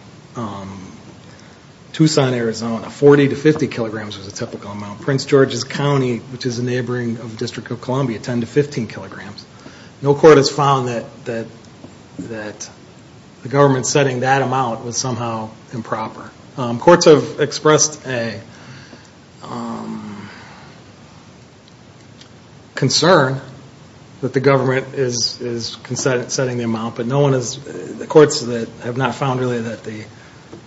Tucson, Arizona, 40 to 50 kilograms was a typical amount. Prince George's County, which is a neighboring district of Columbia, 10 to 15 kilograms. No court has found that the government setting that amount was somehow improper. Courts have expressed a concern that the government is setting the amount, but no one has... The courts have not found really that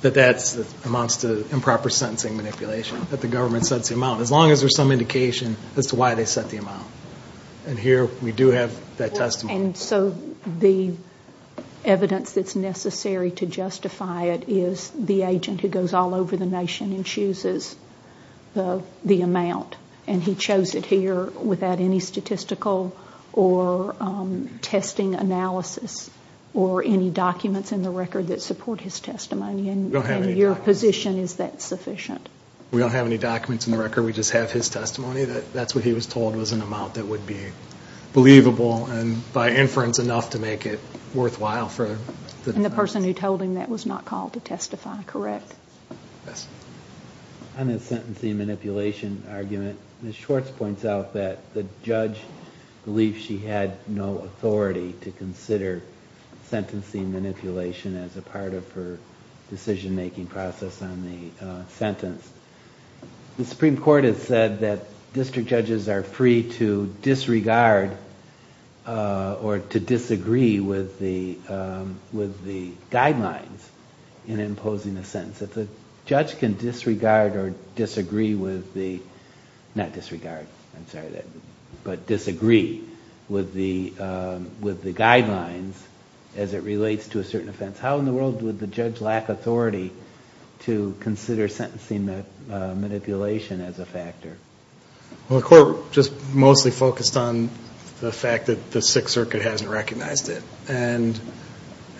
that amounts to improper sentencing manipulation. As long as there's some indication as to why they set the amount. And here we do have that testimony. And so the evidence that's necessary to justify it is the agent who goes all over the nation and chooses the amount. And he chose it here without any statistical or testing analysis or any documents in the record that support his testimony. And your position is that sufficient? We don't have any documents in the record. We just have his testimony. That's what he was told was an amount that would be believable and by inference enough to make it worthwhile. And the person who told him that was not called to testify, correct? Yes. On the sentencing manipulation argument, Ms. Schwartz points out that the judge believes she had no authority to consider sentencing manipulation as a part of her decision-making process on the sentence. The Supreme Court has said that district judges are free to disregard or to disagree with the guidelines in imposing a sentence. If a judge can disregard or disagree with the, not disregard, I'm sorry, but disagree with the guidelines as it relates to a certain offense, how in the world would the judge lack authority to consider sentencing manipulation as a factor? Well, the Court just mostly focused on the fact that the Sixth Circuit hasn't recognized it. And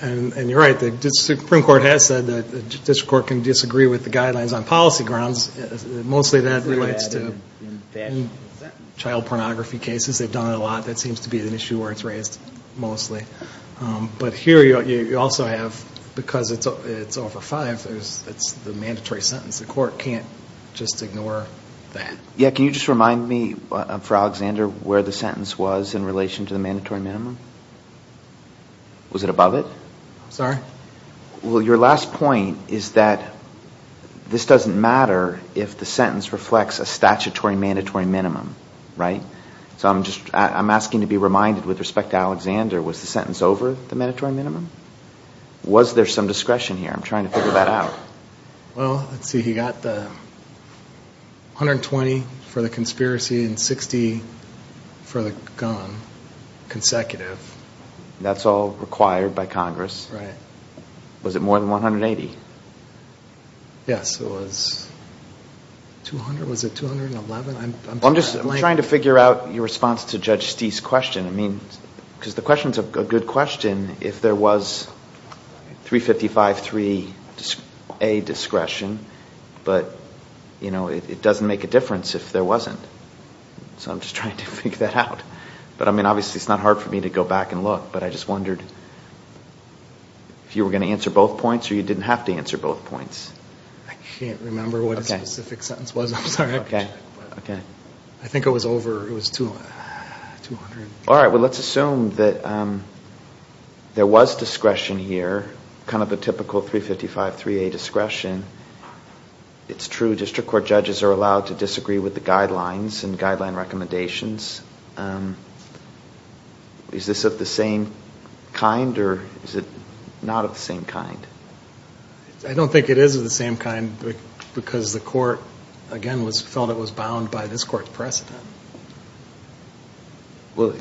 you're right, the Supreme Court has said that the district court can disagree with the guidelines on policy grounds. Mostly that relates to child pornography cases. They've done it a lot. That seems to be an issue where it's raised mostly. But here you also have, because it's over five, it's the mandatory sentence. The Court can't just ignore that. Yeah. Can you just remind me for Alexander where the sentence was in relation to the mandatory minimum? Was it above it? I'm sorry? Well, your last point is that this doesn't matter if the sentence reflects a statutory mandatory minimum, right? So I'm asking to be reminded with respect to Alexander, was the sentence over the mandatory minimum? Was there some discretion here? I'm trying to figure that out. Well, let's see. He got 120 for the conspiracy and 60 for the gun, consecutive. That's all required by Congress. Right. Was it more than 180? Yes, it was. 200, was it 211? I'm just trying to figure out your response to Judge Stee's question. I mean, because the question's a good question. If there was 355-3A discretion, but, you know, it doesn't make a difference if there wasn't. So I'm just trying to figure that out. But, I mean, obviously it's not hard for me to go back and look. But I just wondered if you were going to answer both points or you didn't have to answer both points. I can't remember what the specific sentence was. I'm sorry. Okay. I think it was over. It was 200. All right. Well, let's assume that there was discretion here, kind of a typical 355-3A discretion. It's true district court judges are allowed to disagree with the guidelines and guideline recommendations. Is this of the same kind or is it not of the same kind? I don't think it is of the same kind because the court, again, felt it was bound by this court's precedent. Well,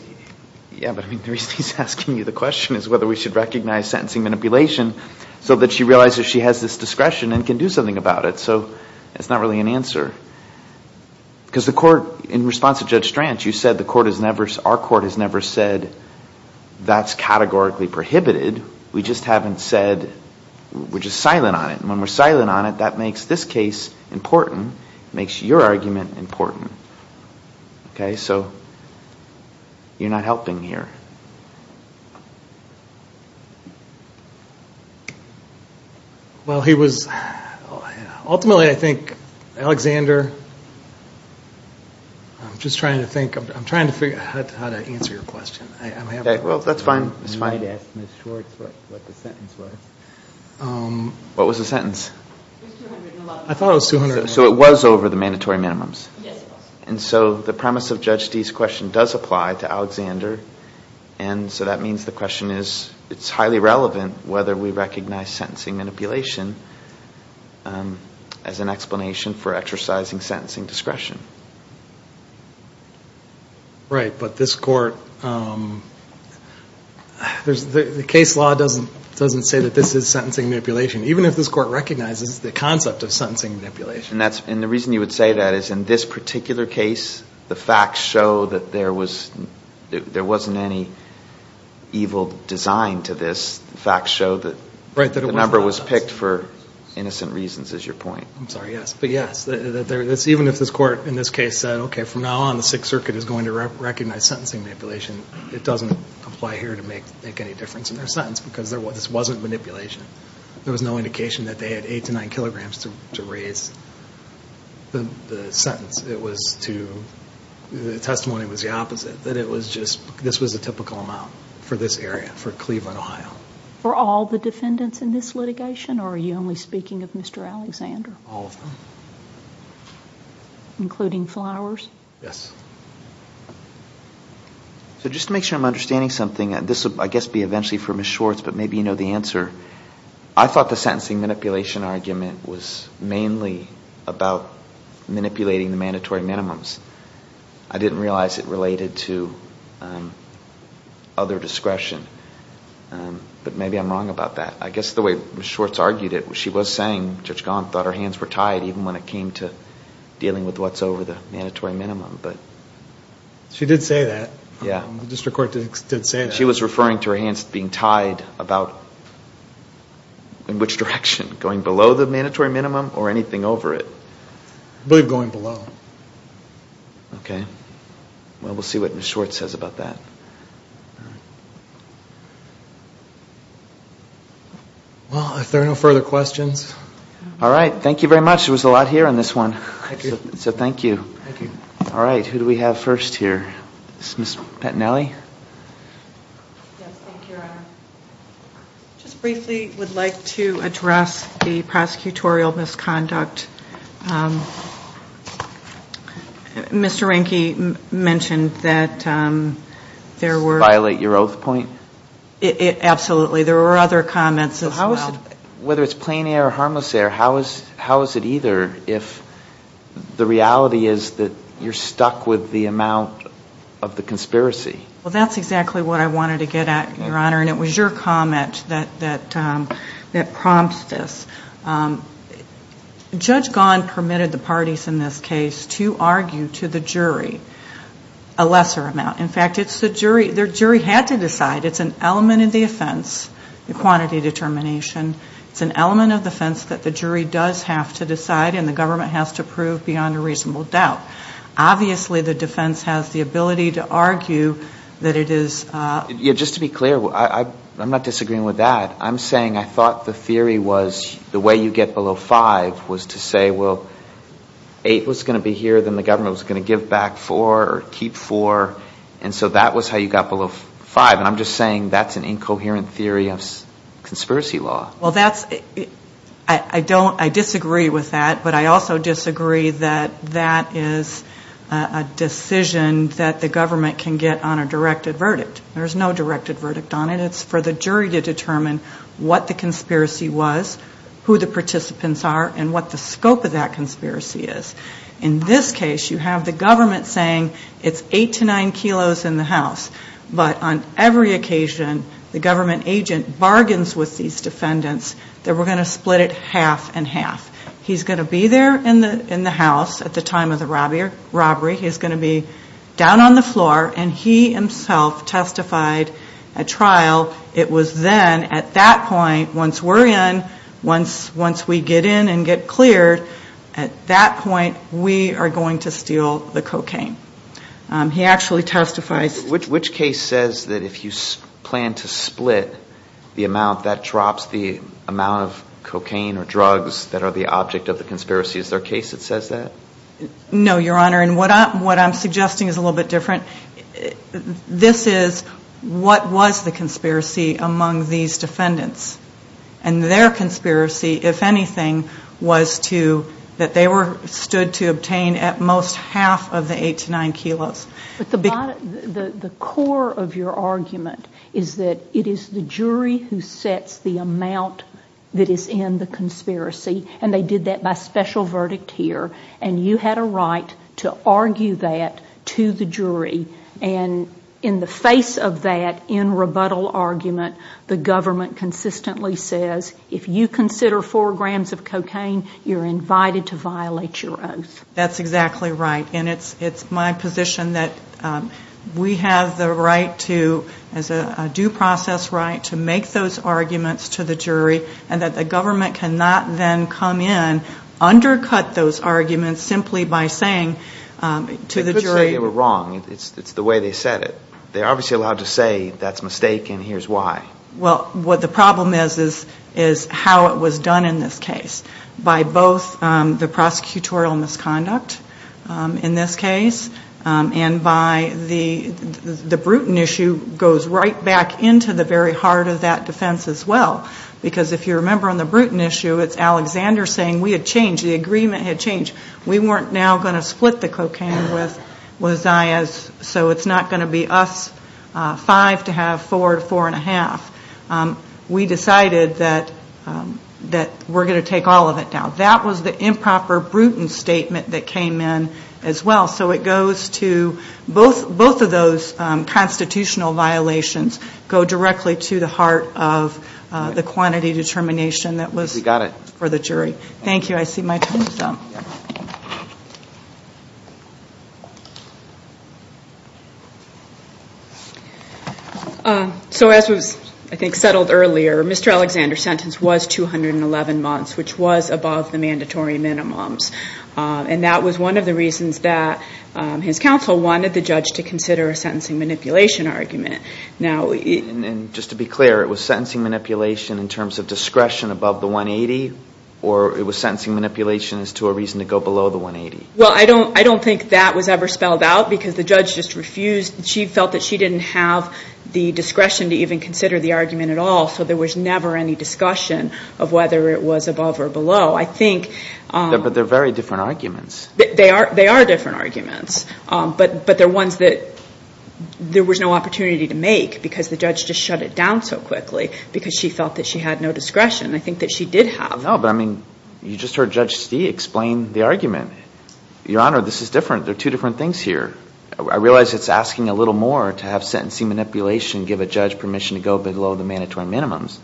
yeah, but I mean, the reason he's asking you the question is whether we should recognize sentencing manipulation so that she realizes she has this discretion and can do something about it. So that's not really an answer. Because the court, in response to Judge Stranch, you said the court has never, our court has never said that's categorically prohibited. We just haven't said, we're just silent on it. And when we're silent on it, that makes this case important. It makes your argument important. Okay, so you're not helping here. Well, he was, ultimately I think Alexander, I'm just trying to think, I'm trying to figure out how to answer your question. Well, that's fine. You might ask Ms. Schwartz what the sentence was. What was the sentence? I thought it was 200. So it was over the mandatory minimums. Yes, it was. And so the premise of Judge Dee's question does apply to Alexander. And so that means the question is, it's highly relevant whether we recognize sentencing manipulation as an explanation for exercising sentencing discretion. Right, but this court, the case law doesn't say that this is sentencing manipulation, even if this court recognizes the concept of sentencing manipulation. And the reason you would say that is, in this particular case, the facts show that there wasn't any evil design to this. The facts show that the number was picked for innocent reasons, is your point. I'm sorry, yes. But yes, even if this court in this case said, okay, from now on the Sixth Circuit is going to recognize sentencing manipulation, it doesn't apply here to make any difference in their sentence, because this wasn't manipulation. There was no indication that they had eight to nine kilograms to raise the sentence. The testimony was the opposite, that this was a typical amount for this area, for Cleveland, Ohio. For all the defendants in this litigation, or are you only speaking of Mr. Alexander? All of them. Including Flowers? Yes. So just to make sure I'm understanding something, this will, I guess, be eventually for Ms. Schwartz, but maybe you know the answer. I thought the sentencing manipulation argument was mainly about manipulating the mandatory minimums. I didn't realize it related to other discretion, but maybe I'm wrong about that. I guess the way Ms. Schwartz argued it, she was saying Judge Gaunt thought her hands were tied, even when it came to dealing with what's over the mandatory minimum. She did say that. She was referring to her hands being tied about in which direction, going below the mandatory minimum or anything over it. I believe going below. Okay. Well, we'll see what Ms. Schwartz says about that. Well, if there are no further questions... All right. Thank you very much. There was a lot here on this one. So thank you. All right. Who do we have first here? Ms. Pantanelli? Yes. Thank you, Your Honor. I just briefly would like to address the prosecutorial misconduct. Mr. Reinke mentioned that there were... Violate your oath point? Absolutely. There were other comments as well. And whether it's plain air or harmless air, how is it either if the reality is that you're stuck with the amount of the conspiracy? Well, that's exactly what I wanted to get at, Your Honor, and it was your comment that prompts this. Judge Gaunt permitted the parties in this case to argue to the jury a lesser amount. In fact, the jury had to decide. It's an element of the offense, the quantity determination. It's an element of the offense that the jury does have to decide, and the government has to prove beyond a reasonable doubt. Obviously, the defense has the ability to argue that it is... Just to be clear, I'm not disagreeing with that. I'm saying I thought the theory was the way you get below five was to say, well, eight was going to be here, then the government was going to give back four or keep four, and so that was how you got below five. I'm just saying that's an incoherent theory of conspiracy law. Well, that's... I don't... I disagree with that, but I also disagree that that is a decision that the government can get on a directed verdict. There's no directed verdict on it. It's for the jury to determine what the conspiracy was, who the participants are, and what the scope of that conspiracy is. In this case, you have the government saying it's eight to nine kilos in the house. But on every occasion, the government agent bargains with these defendants that we're going to split it half and half. He's going to be there in the house at the time of the robbery. He's going to be down on the floor, and he himself testified at trial. It was then, at that point, once we're in, once we get in and get cleared, at that point, we are going to steal the cocaine. He actually testifies... Which case says that if you plan to split the amount, that drops the amount of cocaine or drugs that are the object of the conspiracy? Is there a case that says that? No, Your Honor, and what I'm suggesting is a little bit different. This is, what was the conspiracy among these defendants? And their conspiracy, if anything, was to... that they were stood to obtain at most half of the eight to nine kilos. But the core of your argument is that it is the jury who sets the amount that is in the conspiracy. And they did that by special verdict here. And you had a right to argue that to the jury. And in the face of that, in rebuttal argument, the government consistently says, if you consider four grams of cocaine, you're invited to violate your oath. That's exactly right. And it's my position that we have the right to, as a due process right, to make those arguments to the jury, and that the government cannot then come in, undercut those arguments simply by saying to the jury... They could say they were wrong. It's the way they said it. They're obviously allowed to say, that's a mistake and here's why. Well, what the problem is, is how it was done in this case. By both the prosecutorial misconduct, in this case, and by the... the Bruton issue goes right back into the very heart of that defense as well. Because if you remember on the Bruton issue, it's Alexander saying, we had changed, the agreement had changed. We weren't now going to split the cocaine with Zayas, so it's not going to be us five to have four to four and a half. We decided that we're going to take all of it down. That was the improper Bruton statement that came in as well. So it goes to... both of those constitutional violations go directly to the heart of the quantity determination that was... We got it. For the jury. Thank you. I see my time is up. Thank you. So as was, I think, settled earlier, Mr. Alexander's sentence was 211 months, which was above the mandatory minimums. And that was one of the reasons that his counsel wanted the judge to consider a sentencing manipulation argument. And just to be clear, it was sentencing manipulation in terms of discretion above the 180, or it was sentencing manipulation as to a reason to go below the 180? Well, I don't think that was ever spelled out because the judge just refused. She felt that she didn't have the discretion to even consider the argument at all, so there was never any discussion of whether it was above or below. I think... But they're very different arguments. They are different arguments, but they're ones that there was no opportunity to make because the judge just shut it down so quickly because she felt that she had no discretion. I think that she did have. No, but I mean, you just heard Judge Stee explain the argument. Your Honor, this is different. There are two different things here. I realize it's asking a little more to have sentencing manipulation give a judge permission to go below the mandatory minimums.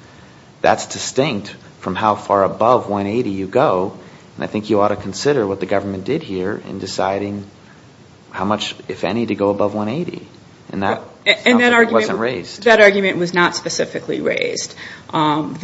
That's distinct from how far above 180 you go, and I think you ought to consider what the government did here in deciding how much, if any, to go above 180. And that argument wasn't raised. The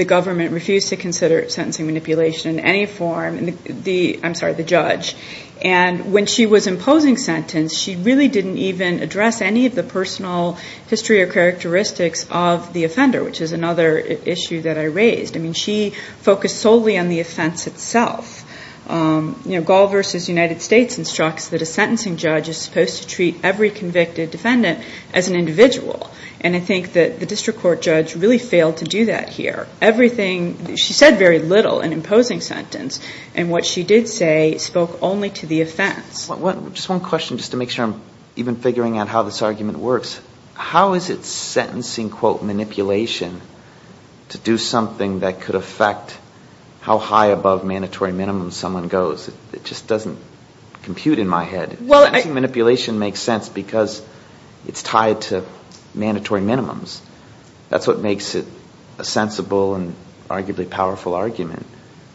government refused to consider sentencing manipulation in any form. I'm sorry, the judge. And when she was imposing sentence, she really didn't even address any of the personal history or characteristics of the offender, which is another issue that I raised. I mean, she focused solely on the offense itself. Gall v. United States instructs that a sentencing judge is supposed to treat every convicted defendant as an individual, and I think that the district court judge really failed to do that here. Everything, she said very little in imposing sentence, and what she did say spoke only to the offense. Just one question, just to make sure I'm even figuring out how this argument works. How is it sentencing, quote, manipulation to do something that could affect how high above mandatory minimums someone goes? It just doesn't compute in my head. Sentencing manipulation makes sense because it's tied to mandatory minimums. That's what makes it a sensible and arguably powerful argument.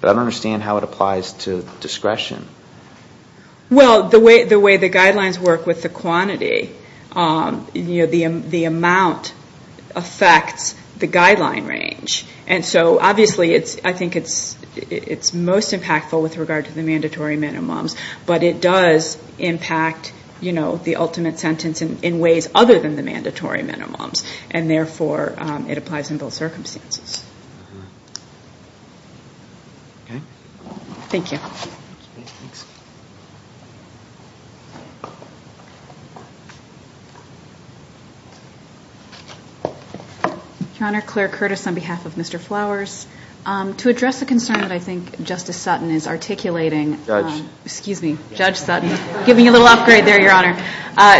But I don't understand how it applies to discretion. Well, the way the guidelines work with the quantity, the amount affects the guideline range. And so obviously I think it's most impactful with regard to the mandatory minimums, but it does impact the ultimate sentence in ways other than the mandatory minimums, and therefore it applies in both circumstances. Okay. Thank you. Your Honor, Claire Curtis on behalf of Mr. Flowers. To address the concern that I think Justice Sutton is articulating, excuse me, Judge Sutton, give me a little upgrade there, Your Honor.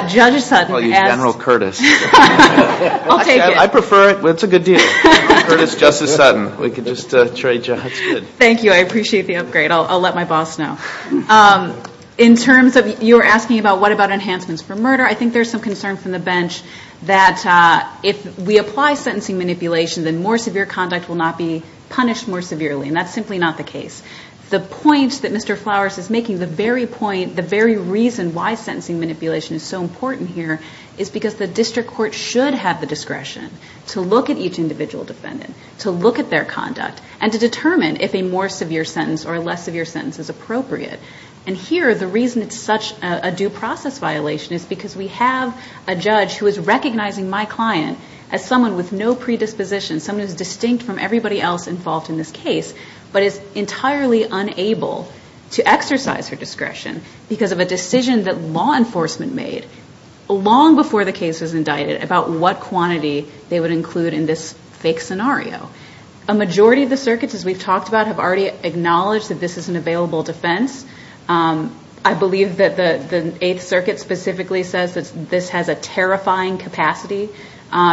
Judge Sutton. I'll use General Curtis. I prefer it. It's a good deal. Thank you. I appreciate the upgrade. I'll let my boss know. In terms of you were asking about what about enhancements for murder, I think there's some concern from the bench that if we apply sentencing manipulation, then more severe conduct will not be punished more severely. And that's simply not the case. The point that Mr. Flowers is making, the very point, the very reason why sentencing manipulation is so important here is because the district court should have the discretion to look at each individual defendant, to look at their conduct, and to determine if a more severe sentence or a less severe sentence is appropriate. And here, the reason it's such a due process violation is because we have a judge who is recognizing my client as someone with no predisposition, someone who's distinct from everybody else involved in this case, but is entirely unable to exercise her discretion because of a decision that law enforcement made long before the case was indicted about what quantity they would include in this fake scenario. A majority of the circuits, as we've talked about, have already acknowledged that this is an available defense. I believe that the Eighth Circuit specifically says that this has a terrifying capacity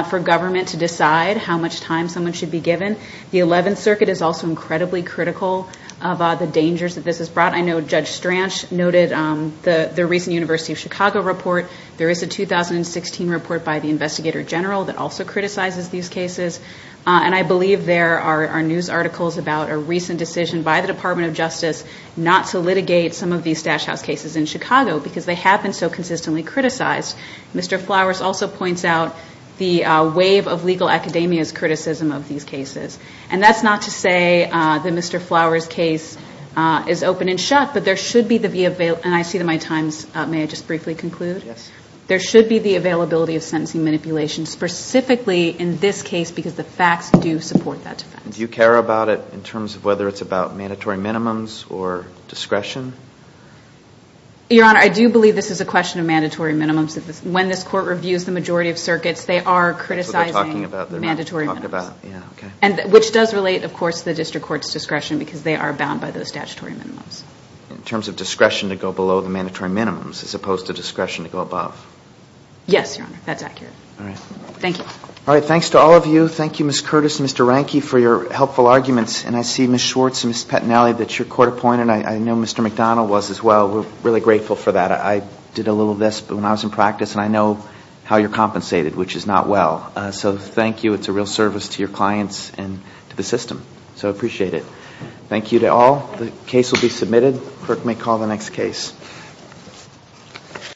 for government to decide how much time someone should be given. The Eleventh Circuit is also incredibly critical of the dangers that this has brought. I know Judge Stranch noted the recent University of Chicago report. There is a 2016 report by the investigator general that also criticizes these cases. And I believe there are news articles about a recent decision by the Department of Justice not to litigate some of these stash house cases in Chicago because they have been so consistently criticized. Mr. Flowers also points out the wave of legal academia's criticism of these cases. And that's not to say that Mr. Flowers' case is open and shut, but there should be the availability and I see that my times may have just briefly concluded. There should be the availability of sentencing manipulation specifically in this case because the facts do support that defense. Do you care about it in terms of whether it's about mandatory minimums or discretion? Your Honor, I do believe this is a question of mandatory minimums. When this Court reviews the majority of circuits, they are criticizing mandatory minimums. Which does relate, of course, to the District Court's discretion because they are bound by those statutory minimums. In terms of discretion to go below the mandatory minimums as opposed to discretion to go above. Yes, Your Honor. That's accurate. Thank you. All right. Thanks to all of you. Thank you, Ms. Curtis and Mr. Ranke for your helpful arguments. And I see Ms. Schwartz and Ms. Pettinelli that you're court-appointed. I know Mr. McDonald was as well. We're really grateful for that. I did a little of this when I was in practice and I know how you're compensated, which is not well. So thank you. It's a real service to your clients and to the system. So I appreciate it. Thank you to all. The case will be submitted. The clerk may call the next case.